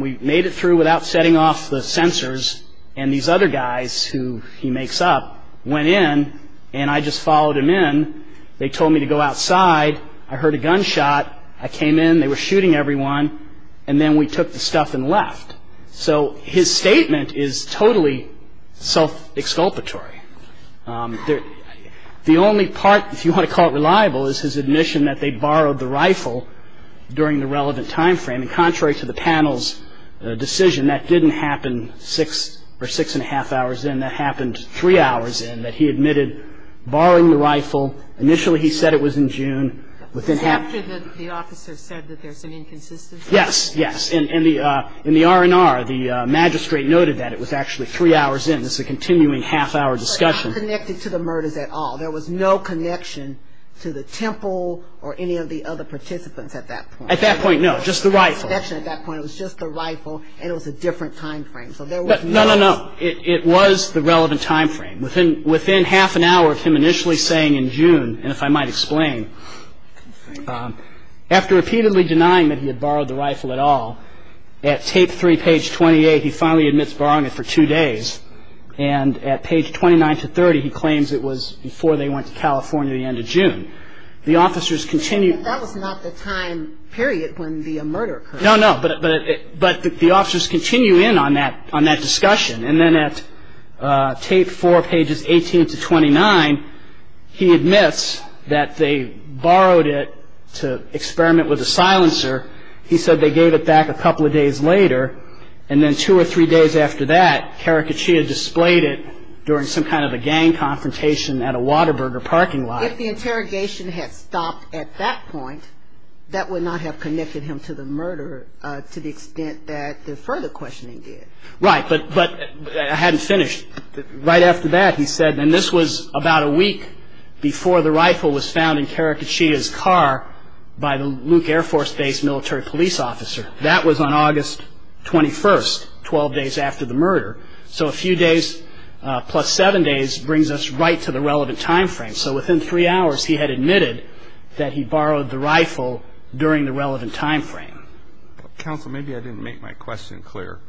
We made it through without setting off the sensors. And these other guys who he makes up went in, and I just followed him in. They told me to go outside. I heard a gunshot. I came in. They were shooting everyone. And then we took the stuff and left. So his statement is totally self-exculpatory. The only part, if you want to call it reliable, is his admission that they borrowed the rifle during the relevant time frame. And contrary to the panel's decision, that didn't happen six or six-and-a-half hours in. That happened three hours in, that he admitted borrowing the rifle. Initially he said it was in June. Was it after the officer said that there's an inconsistency? Yes, yes. In the R&R, the magistrate noted that it was actually three hours in. This is a continuing half-hour discussion. So it's not connected to the murders at all. There was no connection to the temple or any of the other participants at that point. At that point, no, just the rifle. At that point it was just the rifle, and it was a different time frame. No, no, no. It was the relevant time frame. Within half an hour of him initially saying in June, and if I might explain, after repeatedly denying that he had borrowed the rifle at all, at tape three, page 28, he finally admits borrowing it for two days. And at page 29 to 30, he claims it was before they went to California the end of June. The officers continued. But that was not the time period when the murder occurred. No, no. But the officers continue in on that discussion. And then at tape four, pages 18 to 29, he admits that they borrowed it to experiment with a silencer. He said they gave it back a couple of days later. And then two or three days after that, Karakachi had displayed it during some kind of a gang confrontation at a Whataburger parking lot. If the interrogation had stopped at that point, that would not have connected him to the murder to the extent that the further questioning did. Right. But I hadn't finished. Right after that, he said, and this was about a week before the rifle was found in Karakachi's car by the Luke Air Force Base military police officer. That was on August 21st, 12 days after the murder. So a few days plus seven days brings us right to the relevant time frame. So within three hours, he had admitted that he borrowed the rifle during the relevant time frame. Counsel, maybe I didn't make my question clear.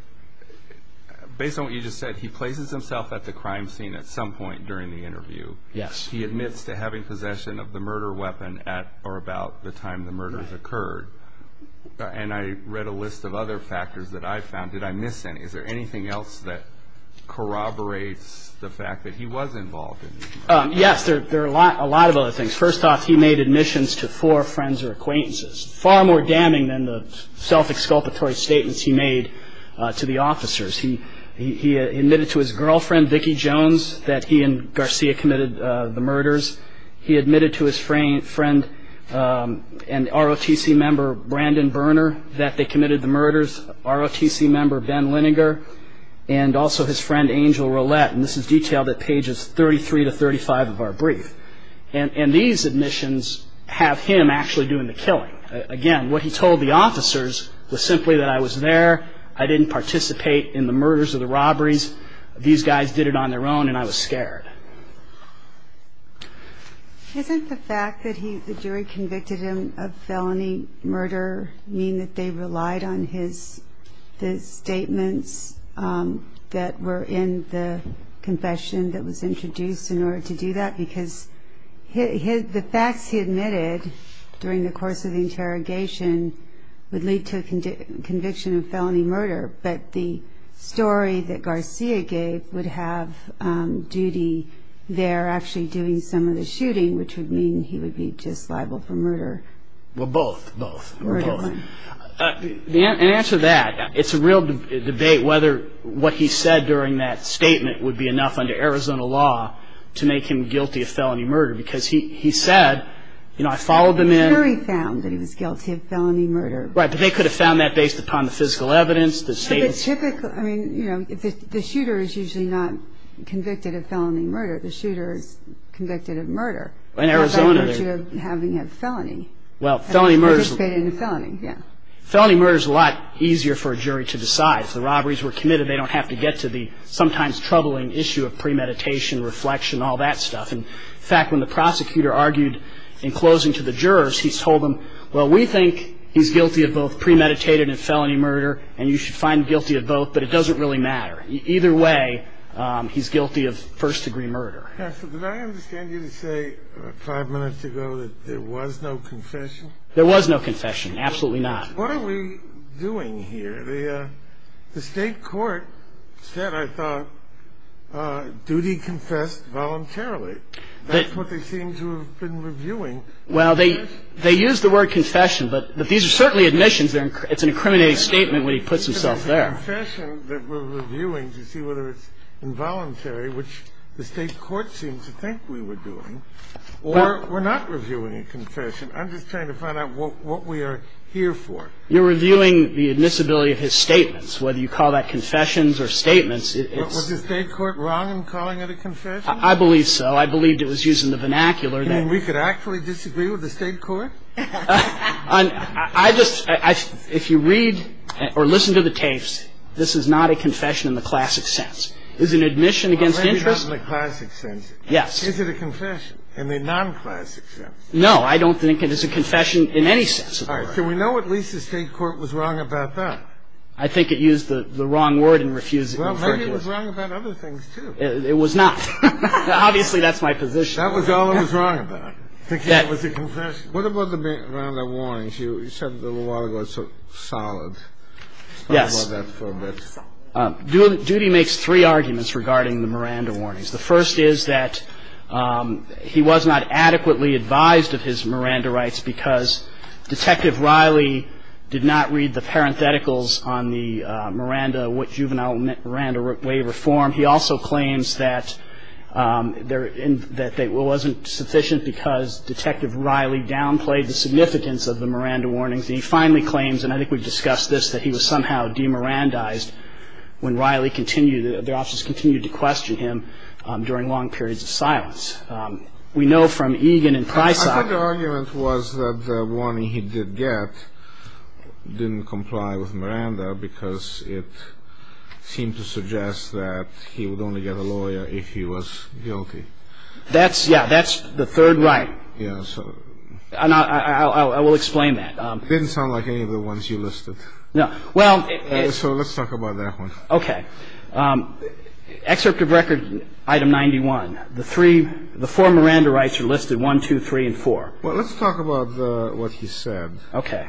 Based on what you just said, he places himself at the crime scene at some point during the interview. Yes. He admits to having possession of the murder weapon at or about the time the murders occurred. And I read a list of other factors that I found. Did I miss any? Is there anything else that corroborates the fact that he was involved? Yes. There are a lot of other things. First off, he made admissions to four friends or acquaintances. Far more damning than the self-exculpatory statements he made to the officers. He admitted to his girlfriend, Vicki Jones, that he and Garcia committed the murders. He admitted to his friend and ROTC member, Brandon Berner, that they committed the murders, ROTC member Ben Linegar, and also his friend, Angel Roulette. And this is detailed at pages 33 to 35 of our brief. And these admissions have him actually doing the killing. Again, what he told the officers was simply that, I was there, I didn't participate in the murders or the robberies. These guys did it on their own and I was scared. Doesn't the fact that the jury convicted him of felony murder mean that they relied on his statements that were in the confession that was introduced in order to do that? Because the facts he admitted during the course of the interrogation would lead to a conviction of felony murder, but the story that Garcia gave would have Judy there actually doing some of the shooting, which would mean he would be just liable for murder. Well, both, both. Murder one. In answer to that, it's a real debate whether what he said during that statement would be enough under Arizona law to make him guilty of felony murder, because he said, you know, I followed them in. The jury found that he was guilty of felony murder. Right, but they could have found that based upon the physical evidence, the statements. But typically, I mean, you know, the shooter is usually not convicted of felony murder. The shooter is convicted of murder. In Arizona, they're. How about the virtue of having a felony? Well, felony murder. Participated in a felony, yeah. Felony murder is a lot easier for a jury to decide. If the robberies were committed, they don't have to get to the sometimes troubling issue of premeditation, reflection, all that stuff. In fact, when the prosecutor argued in closing to the jurors, he told them, well, we think he's guilty of both premeditated and felony murder, and you should find guilty of both, but it doesn't really matter. Either way, he's guilty of first-degree murder. Counsel, did I understand you to say five minutes ago that there was no confession? There was no confession, absolutely not. What are we doing here? The state court said, I thought, duty confessed voluntarily. That's what they seem to have been reviewing. Well, they used the word confession, but these are certainly admissions. It's an incriminating statement when he puts himself there. It's a confession that we're reviewing to see whether it's involuntary, which the state court seems to think we were doing, or we're not reviewing a confession. I'm just trying to find out what we are here for. You're reviewing the admissibility of his statements, whether you call that confessions or statements. Was the state court wrong in calling it a confession? I believe so. I believe it was used in the vernacular. You mean we could actually disagree with the state court? I just – if you read or listen to the tapes, this is not a confession in the classic sense. It was an admission against interest. Well, maybe not in the classic sense. Yes. Is it a confession in the non-classic sense? No, I don't think it is a confession in any sense of the word. All right. So we know at least the state court was wrong about that. I think it used the wrong word in refusing. Well, maybe it was wrong about other things, too. It was not. Obviously, that's my position. That was all it was wrong about, thinking it was a confession. What about the Miranda warnings? You said a little while ago it's sort of solid. Yes. Let's talk about that for a bit. Doody makes three arguments regarding the Miranda warnings. The first is that he was not adequately advised of his Miranda rights because Detective Riley did not read the parentheticals on the Miranda juvenile waiver form. He also claims that it wasn't sufficient because Detective Riley downplayed the significance of the Miranda warnings. And he finally claims, and I think we've discussed this, that he was somehow demirandized when Riley continued, the officers continued to question him during long periods of silence. We know from Egan and Preissach I think the argument was that the warning he did get didn't comply with Miranda because it seemed to suggest that he would only get a lawyer if he was guilty. That's, yeah, that's the third right. I will explain that. It didn't sound like any of the ones you listed. No. Well. So let's talk about that one. Okay. Excerpt of record item 91. The three, the four Miranda rights are listed, one, two, three, and four. Well, let's talk about what he said. Okay.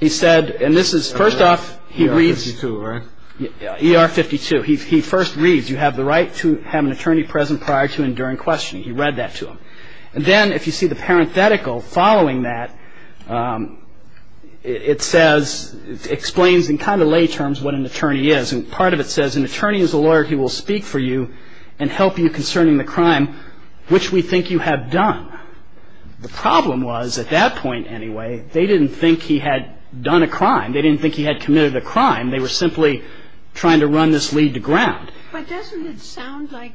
He said, and this is, first off, he reads. ER-52, right? ER-52. He first reads, you have the right to have an attorney present prior to and during questioning. He read that to him. And then if you see the parenthetical following that, it says, it explains in kind of lay terms what an attorney is. And part of it says an attorney is a lawyer who will speak for you and help you concerning the crime which we think you have done. The problem was, at that point anyway, they didn't think he had done a crime. They didn't think he had committed a crime. They were simply trying to run this lead to ground. But doesn't it sound like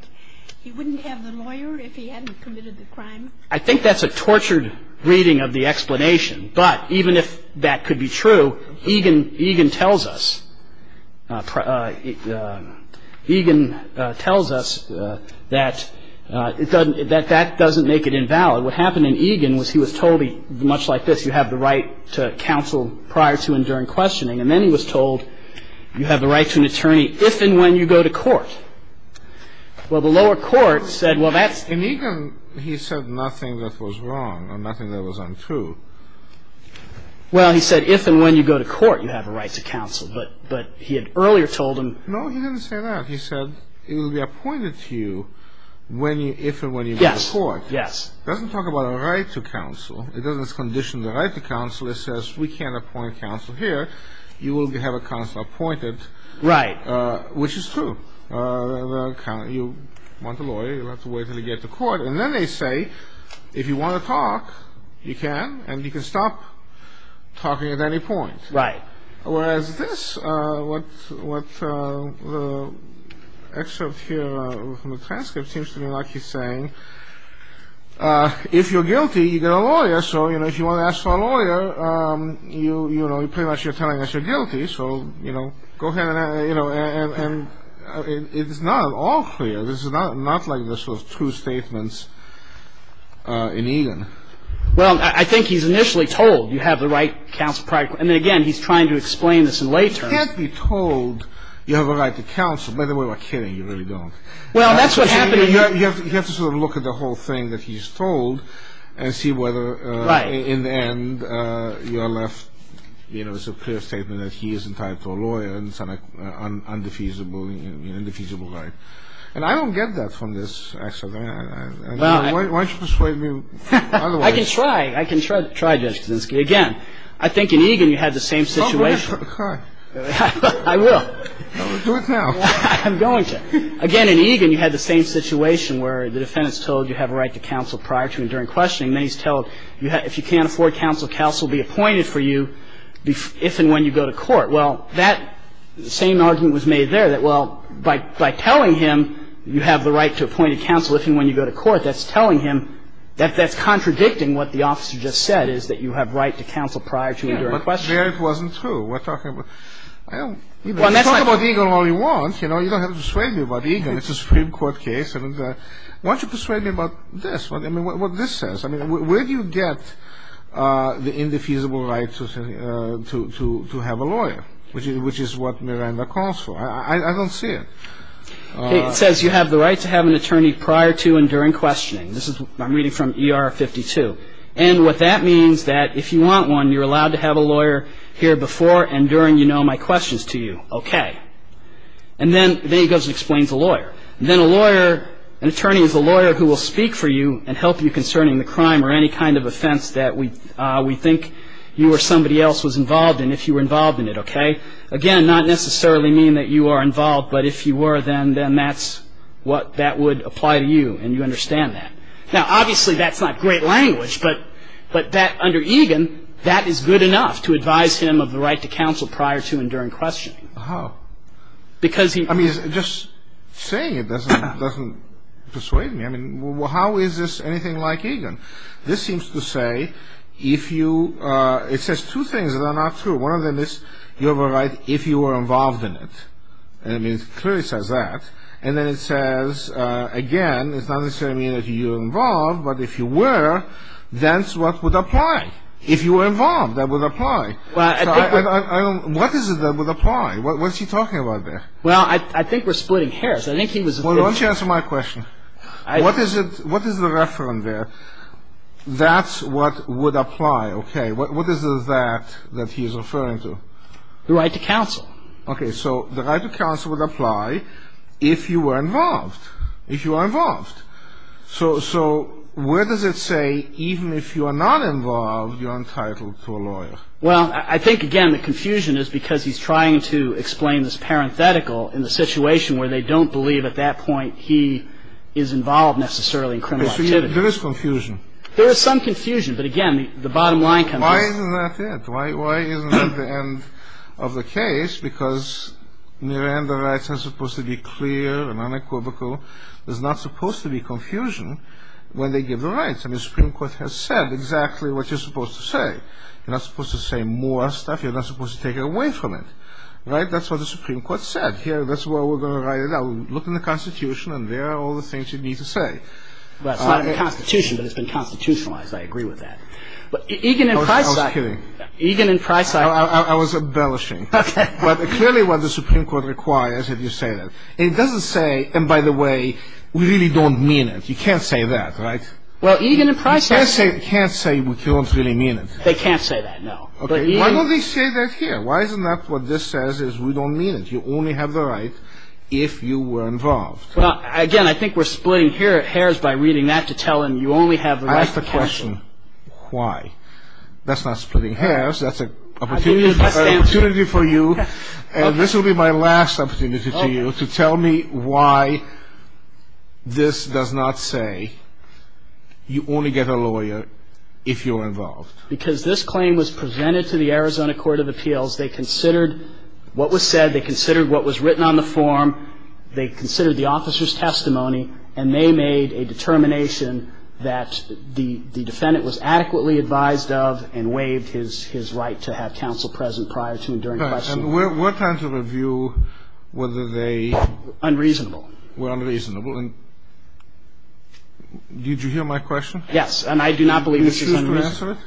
he wouldn't have the lawyer if he hadn't committed the crime? I think that's a tortured reading of the explanation. But even if that could be true, Egan tells us that that doesn't make it invalid. What happened in Egan was he was told much like this, you have the right to counsel prior to and during questioning. And then he was told, you have the right to an attorney if and when you go to court. Well, the lower court said, well, that's... In Egan, he said nothing that was wrong and nothing that was untrue. Well, he said if and when you go to court, you have a right to counsel. But he had earlier told him... No, he didn't say that. He said it will be appointed to you if and when you go to court. Yes, yes. It doesn't talk about a right to counsel. It doesn't condition the right to counsel. It says we can't appoint counsel here. You will have a counsel appointed. Right. Which is true. You want a lawyer. You'll have to wait until you get to court. And then they say, if you want to talk, you can, and you can stop talking at any point. Right. Whereas this, what the excerpt here from the transcript seems to me like he's saying, if you're guilty, you get a lawyer. So, you know, if you want to ask for a lawyer, you know, pretty much you're telling us you're guilty. So, you know, go ahead and, you know, and it's not at all clear. This is not like the sort of true statements in Egan. Well, I think he's initially told you have the right to counsel practically. I mean, again, he's trying to explain this in lay terms. You can't be told you have a right to counsel. By the way, we're kidding. You really don't. Well, that's what's happening. You have to sort of look at the whole thing that he's told and see whether in the end you're left, you know, it's a clear statement that he is entitled to a lawyer and it's an indefeasible right. And I don't get that from this excerpt. Why don't you persuade me otherwise? I can try. I can try this. Again, I think in Egan you had the same situation. I will. Do it now. I'm going to. Again, in Egan you had the same situation where the defendant's told you have a right to counsel prior to and during questioning. Then he's told if you can't afford counsel, counsel will be appointed for you if and when you go to court. Well, that same argument was made there that, well, by telling him you have the right to appoint a counsel if and when you go to court, that's telling him that that's contradicting what the officer just said is that you have right to counsel prior to and during questioning. Yeah, but there it wasn't true. We're talking about – Well, that's not – I'm talking about Egan. It's a Supreme Court case. Why don't you persuade me about this, what this says? I mean, where do you get the indefeasible right to have a lawyer, which is what Miranda calls for? I don't see it. It says you have the right to have an attorney prior to and during questioning. I'm reading from ER 52. And what that means that if you want one, you're allowed to have a lawyer here before and during you know my questions to you. Okay. And then he goes and explains a lawyer. And then a lawyer – an attorney is a lawyer who will speak for you and help you concerning the crime or any kind of offense that we think you or somebody else was involved in if you were involved in it, okay? Again, not necessarily mean that you are involved, but if you were, then that's what – that would apply to you and you understand that. Now, obviously, that's not great language, but under Egan, that is good enough to advise him of the right to counsel prior to and during questioning. How? Because he – I mean, just saying it doesn't persuade me. I mean, how is this anything like Egan? This seems to say if you – it says two things that are not true. One of them is you have a right if you were involved in it. And it clearly says that. And then it says, again, it's not necessarily mean that you are involved, but if you were, that's what would apply. If you were involved, that would apply. So I don't – what is it that would apply? What is he talking about there? Well, I think we're splitting hairs. I think he was – Well, why don't you answer my question? What is it – what is the reference there? That's what would apply, okay? What is it that he is referring to? The right to counsel. Okay. So the right to counsel would apply if you were involved, if you are involved. So where does it say even if you are not involved, you are entitled to a lawyer? Well, I think, again, the confusion is because he's trying to explain this parenthetical in the situation where they don't believe at that point he is involved necessarily in criminal activity. There is confusion. There is some confusion. But, again, the bottom line comes up. Why isn't that it? Why isn't that the end of the case? Because Miranda rights are supposed to be clear and unequivocal. There's not supposed to be confusion when they give the rights. I mean, the Supreme Court has said exactly what you're supposed to say. You're not supposed to say more stuff. You're not supposed to take it away from it. Right? That's what the Supreme Court said. Here, that's where we're going to write it down. Look in the Constitution, and there are all the things you need to say. Well, it's not in the Constitution, but it's been constitutionalized. I agree with that. But Egan and Price – No, I was kidding. Egan and Price – I was embellishing. Okay. But clearly what the Supreme Court requires if you say that. It doesn't say, and by the way, we really don't mean it. You can't say that, right? Well, Egan and Price – You can't say we don't really mean it. They can't say that, no. But Egan – Why don't they say that here? Why isn't that what this says is we don't mean it? You only have the right if you were involved. Well, again, I think we're splitting hairs by reading that to tell him you only have the right to cancel. I asked a question. Why? That's not splitting hairs. That's an opportunity for you. And this will be my last opportunity to you to tell me why this does not say you only get a lawyer if you're involved. Because this claim was presented to the Arizona Court of Appeals. They considered what was said. They considered what was written on the form. They considered the officer's testimony, and they made a determination that the defendant was adequately advised of and waived his right to have counsel present prior to and during questioning. And what kinds of review were they – Unreasonable. Were unreasonable. Yes. And I do not believe this is unreasonable. That's your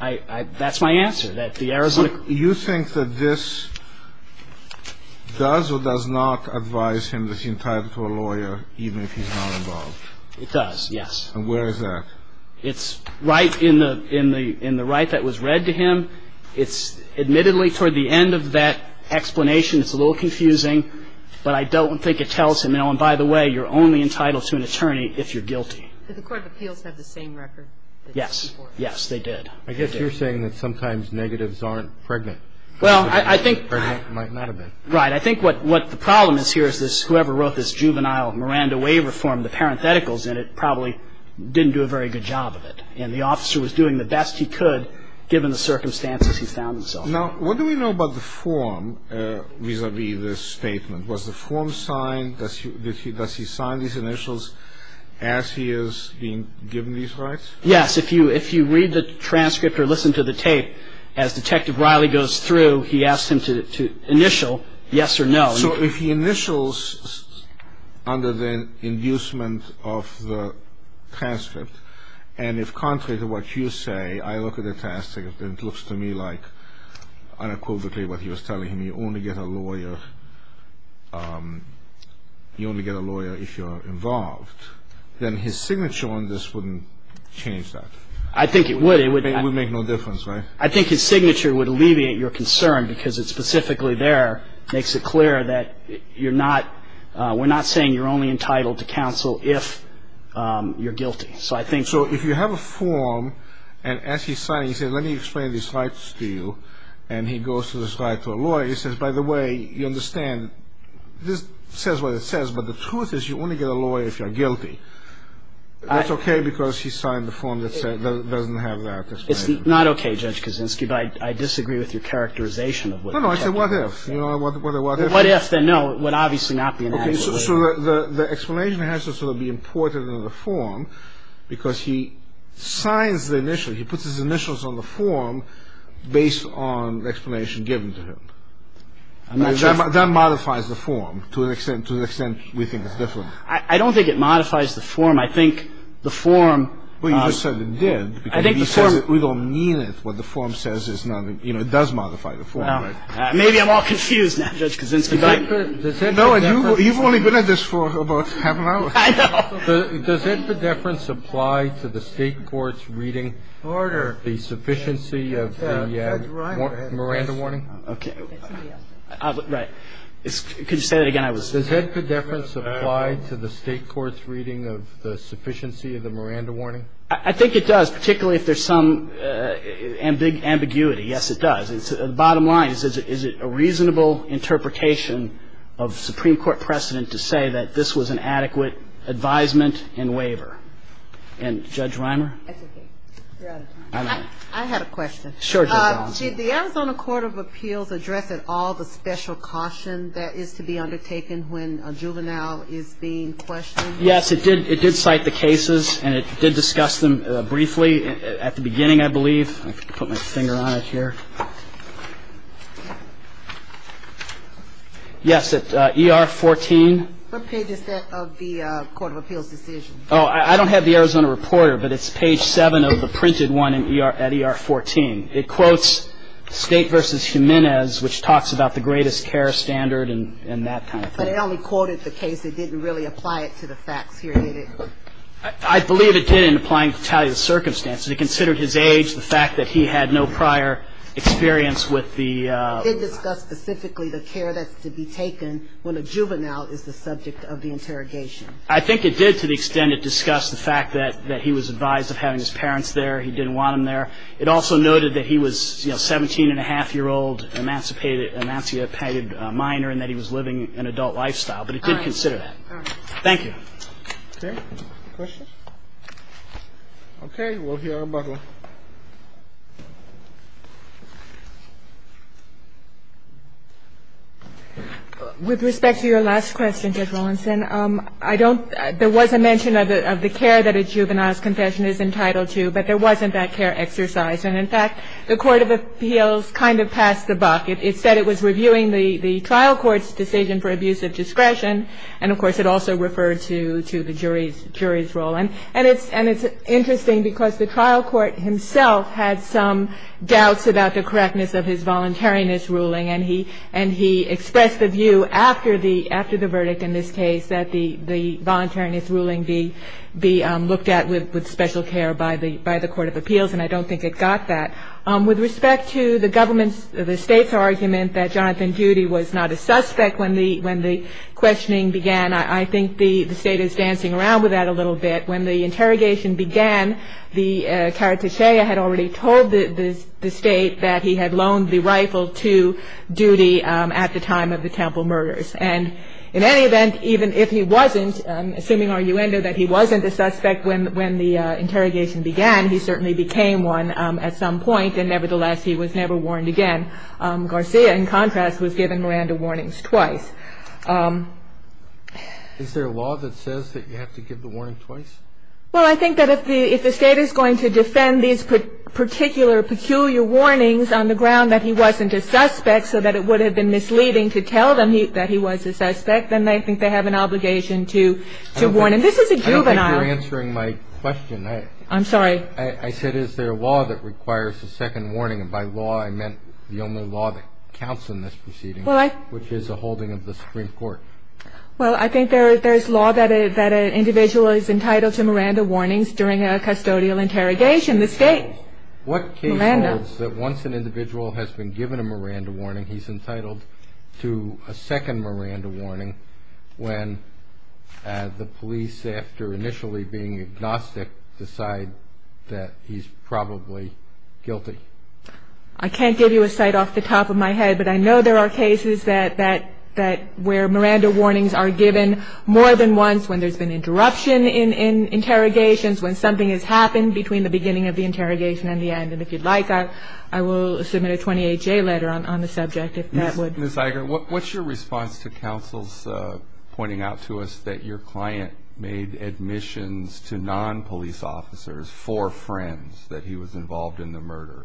answer? That's my answer, that the Arizona – You think that this does or does not advise him that he's entitled to a lawyer even if he's not involved? It does, yes. And where is that? It's right in the right that was read to him. It's admittedly toward the end of that explanation. It's a little confusing. But I don't think it tells him, oh, and by the way, you're only entitled to an attorney if you're guilty. Does the Court of Appeals have the same record? Yes. Yes, they did. I guess you're saying that sometimes negatives aren't pregnant. Well, I think – Or might not have been. Right. I think what the problem is here is this – whoever wrote this juvenile Miranda waiver form, the parentheticals in it probably didn't do a very good job of it. And the officer was doing the best he could given the circumstances he found himself in. Now, what do we know about the form vis-à-vis this statement? Was the form signed? Does he sign these initials as he is being given these rights? Yes. If you read the transcript or listen to the tape, as Detective Riley goes through, he asks him to initial yes or no. So if he initials under the inducement of the transcript, and if contrary to what you say, I look at the transcript and it looks to me like unequivocally what he was telling me, you only get a lawyer if you're involved, then his signature on this wouldn't change that. I think it would. It would make no difference, right? I think his signature would alleviate your concern because it specifically there makes it clear that you're not – we're not saying you're only entitled to counsel if you're guilty. So I think – So if you have a form, and as he's signing, he says, let me explain these rights to you, and he goes through this right to a lawyer, he says, by the way, you understand, this says what it says, but the truth is you only get a lawyer if you're guilty. That's okay because he signed the form that doesn't have that explanation. It's not okay, Judge Kaczynski, but I disagree with your characterization of what – No, no, I said what if. You know, what if – What if, then no, it would obviously not be an adequate lawyer. Okay, so the explanation has to sort of be important in the form because he signs the initial. The initial is the form based on the explanation given to him. That modifies the form to an extent – to an extent we think it's different. I don't think it modifies the form. I think the form – Well, you just said it did because he says it. We don't mean it. What the form says is it does modify the form. Maybe I'm all confused now, Judge Kaczynski. And you've only been at this for about half an hour. I know. Does head pedeference apply to the State Court's reading of the sufficiency of the Miranda warning? Okay. Right. Could you say that again? Does head pedeference apply to the State Court's reading of the sufficiency of the Miranda warning? I think it does, particularly if there's some ambiguity. Yes, it does. The bottom line is, is it a reasonable interpretation of Supreme Court precedent to say that this was an adequate advisement and waiver? And, Judge Reimer? That's okay. You're out of time. I had a question. Sure, Judge Collins. Did the Arizona Court of Appeals address at all the special caution that is to be undertaken when a juvenile is being questioned? Yes, it did cite the cases, and it did discuss them briefly at the beginning, I believe. I can put my finger on it here. Yes, at ER 14. What page is that of the Court of Appeals decision? Oh, I don't have the Arizona Reporter, but it's page 7 of the printed one at ER 14. It quotes State v. Jimenez, which talks about the greatest care standard and that kind of thing. But it only quoted the case. It didn't really apply it to the facts here, did it? I believe it did in applying to tally the circumstances. It considered his age, the fact that he had no prior experience with the ---- It discussed specifically the care that's to be taken when a juvenile is the subject of the interrogation. I think it did to the extent it discussed the fact that he was advised of having his parents there. He didn't want them there. It also noted that he was a 17-and-a-half-year-old emancipated minor and that he was living an adult lifestyle. But it did consider that. All right. Thank you. Okay. Questions? Okay. We'll hear from Butler. With respect to your last question, Judge Rawlinson, I don't ---- There was a mention of the care that a juvenile's confession is entitled to, but there wasn't that care exercise. And, in fact, the court of appeals kind of passed the buck. It said it was reviewing the trial court's decision for abuse of discretion, and, of course, it also referred to the jury's role. And it's interesting because the trial court himself had some doubts about the correctness of his voluntariness ruling, and he expressed the view after the verdict in this case that the voluntariness ruling be looked at with special care by the court of appeals, and I don't think it got that. With respect to the government's, the State's argument that Jonathan Judy was not a suspect when the questioning began, I think the State is dancing around with that a little bit. When the interrogation began, the cartouche had already told the State that he had loaned the rifle to Judy at the time of the Temple murders. And, in any event, even if he wasn't, assuming our uendo that he wasn't a suspect when the interrogation began, he certainly became one at some point, and, nevertheless, he was never warned again. Garcia, in contrast, was given Miranda warnings twice. Is there a law that says that you have to give the warning twice? Well, I think that if the State is going to defend these particular peculiar warnings on the ground that he wasn't a suspect so that it would have been misleading to tell them that he was a suspect, then I think they have an obligation to warn him. This is a juvenile. I don't think you're answering my question. I'm sorry. I said, is there a law that requires a second warning? And, by law, I meant the only law that counts in this proceeding, which is a holding of the Supreme Court. Well, I think there's law that an individual is entitled to Miranda warnings during a custodial interrogation. The State, Miranda. What case holds that once an individual has been given a Miranda warning, he's entitled to a second Miranda warning when the police, after initially being agnostic, decide that he's probably guilty? I can't give you a site off the top of my head, but I know there are cases where Miranda warnings are given more than once, when there's been interruption in interrogations, when something has happened between the beginning of the interrogation and the end. And if you'd like, I will submit a 28-J letter on the subject, if that would. Ms. Iger, what's your response to counsel's pointing out to us that your client made admissions to non-police officers for friends, that he was involved in the murder?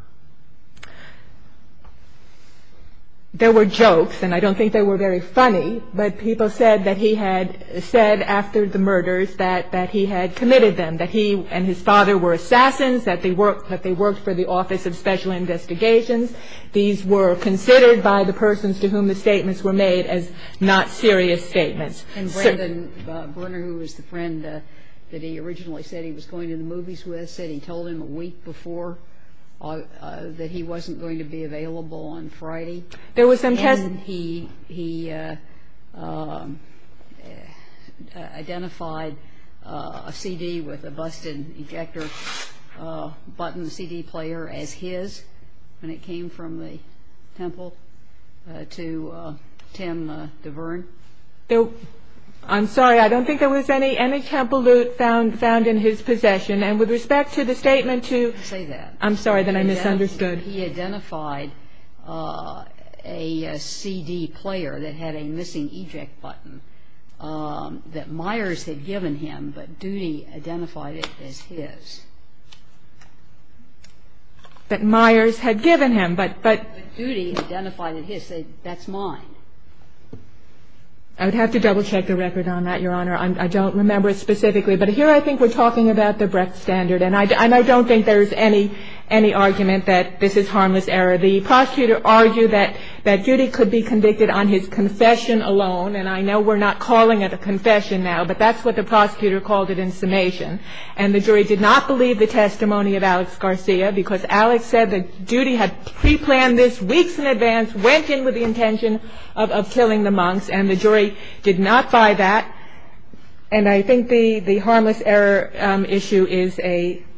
There were jokes, and I don't think they were very funny, but people said that he had said after the murders that he had committed them, that he and his father were assassins, that they worked for the Office of Special Investigations. These were considered by the persons to whom the statements were made as not serious statements. And Brandon Berner, who was the friend that he originally said he was going to the movies with, said he told him a week before that he wasn't going to be available on Friday. And he identified a CD with a busted ejector button CD player as his when it came from the temple to Tim DeVern. I'm sorry. I don't think there was any temple loot found in his possession. And with respect to the statement to – I didn't say that. I'm sorry, then I misunderstood. He identified a CD player that had a missing eject button that Myers had given him, but Doody identified it as his. That Myers had given him, but – But Doody identified it as his. That's mine. I would have to double-check the record on that, Your Honor. I don't remember it specifically. But here I think we're talking about the breadth standard, and I don't think there's any argument that this is harmless error. The prosecutor argued that Doody could be convicted on his confession alone, and I know we're not calling it a confession now, but that's what the prosecutor called it in summation. And the jury did not believe the testimony of Alex Garcia, because Alex said that Doody had preplanned this weeks in advance, went in with the intention of killing the monks, and the jury did not buy that. And I think the harmless error issue is a –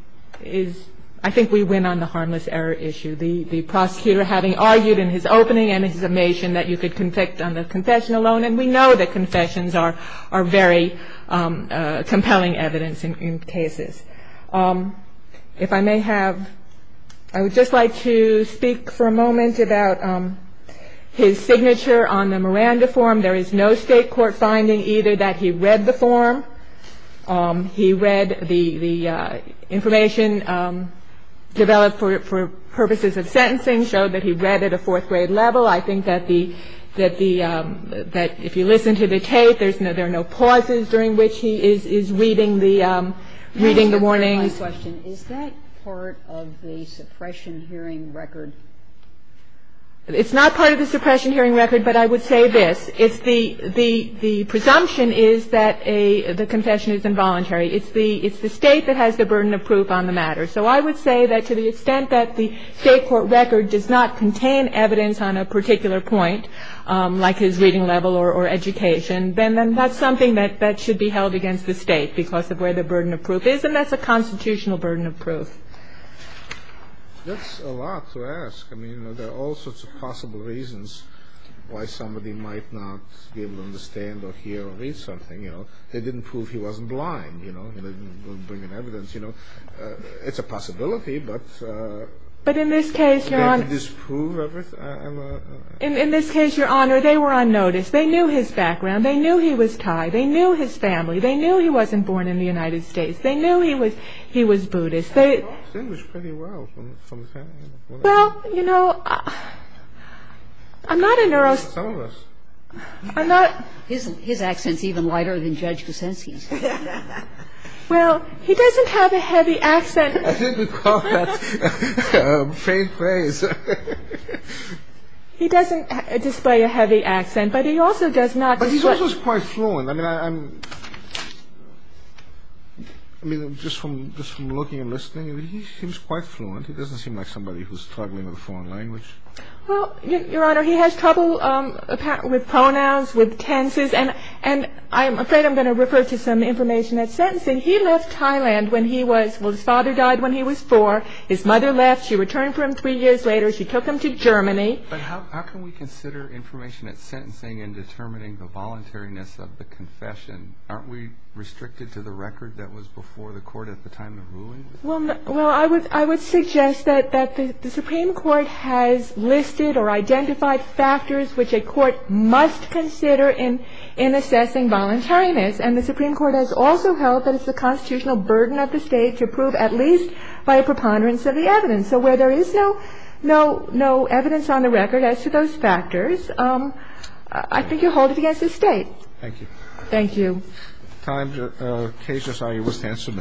I think we win on the harmless error issue. The prosecutor having argued in his opening and his summation that you could convict on the confession alone, and we know that confessions are very compelling evidence in cases. If I may have – I would just like to speak for a moment about his signature on the Miranda form. There is no State court finding either that he read the form. He read the information developed for purposes of sentencing, showed that he read it at a fourth-grade level. I think that the – that if you listen to the tape, there are no pauses during which he is reading the – reading the warnings. MS. GOTTLIEB Is that part of the suppression hearing record? It's not part of the suppression hearing record, but I would say this. It's the – the presumption is that a – the confession is involuntary. It's the – it's the State that has the burden of proof on the matter. So I would say that to the extent that the State court record does not contain evidence on a particular point, like his reading level or education, then that's something that should be held against the State because of where the burden of proof is, and that's a constitutional burden of proof. That's a lot to ask. I mean, you know, there are all sorts of possible reasons why somebody might not be able to understand or hear or read something, you know. They didn't prove he wasn't blind, you know. They didn't bring in evidence, you know. It's a possibility, but – But in this case, Your Honor – Did they disprove everything? In this case, Your Honor, they were on notice. They knew his background. They knew he was Thai. They knew his family. They knew he wasn't born in the United States. They knew he was – he was Buddhist. They knew his family. He spoke the language pretty well from his family, you know. Well, you know, I'm not a neurosc – Some of us. I'm not – His accent's even lighter than Judge Kuczynski's. Well, he doesn't have a heavy accent – I didn't call that a pained face. He doesn't display a heavy accent, but he also does not – He's also quite fluent. I mean, I'm – I mean, just from looking and listening, he seems quite fluent. He doesn't seem like somebody who's struggling with a foreign language. Well, Your Honor, he has trouble with pronouns, with tenses, and I'm afraid I'm going to refer to some information at sentencing. He left Thailand when he was – Well, his father died when he was four. His mother left. She returned for him three years later. She took him to Germany. But how can we consider information at sentencing in determining the voluntariness of the confession? Aren't we restricted to the record that was before the Court at the time of ruling? Well, I would suggest that the Supreme Court has listed or identified factors which a court must consider in assessing voluntariness, and the Supreme Court has also held that it's the constitutional burden of the State to prove at least by a preponderance of the evidence. So where there is no evidence on the record as to those factors, I think you'll hold it against the State. Thank you. Thank you. The case is now in your witness' hands for a minute. You are adjourned.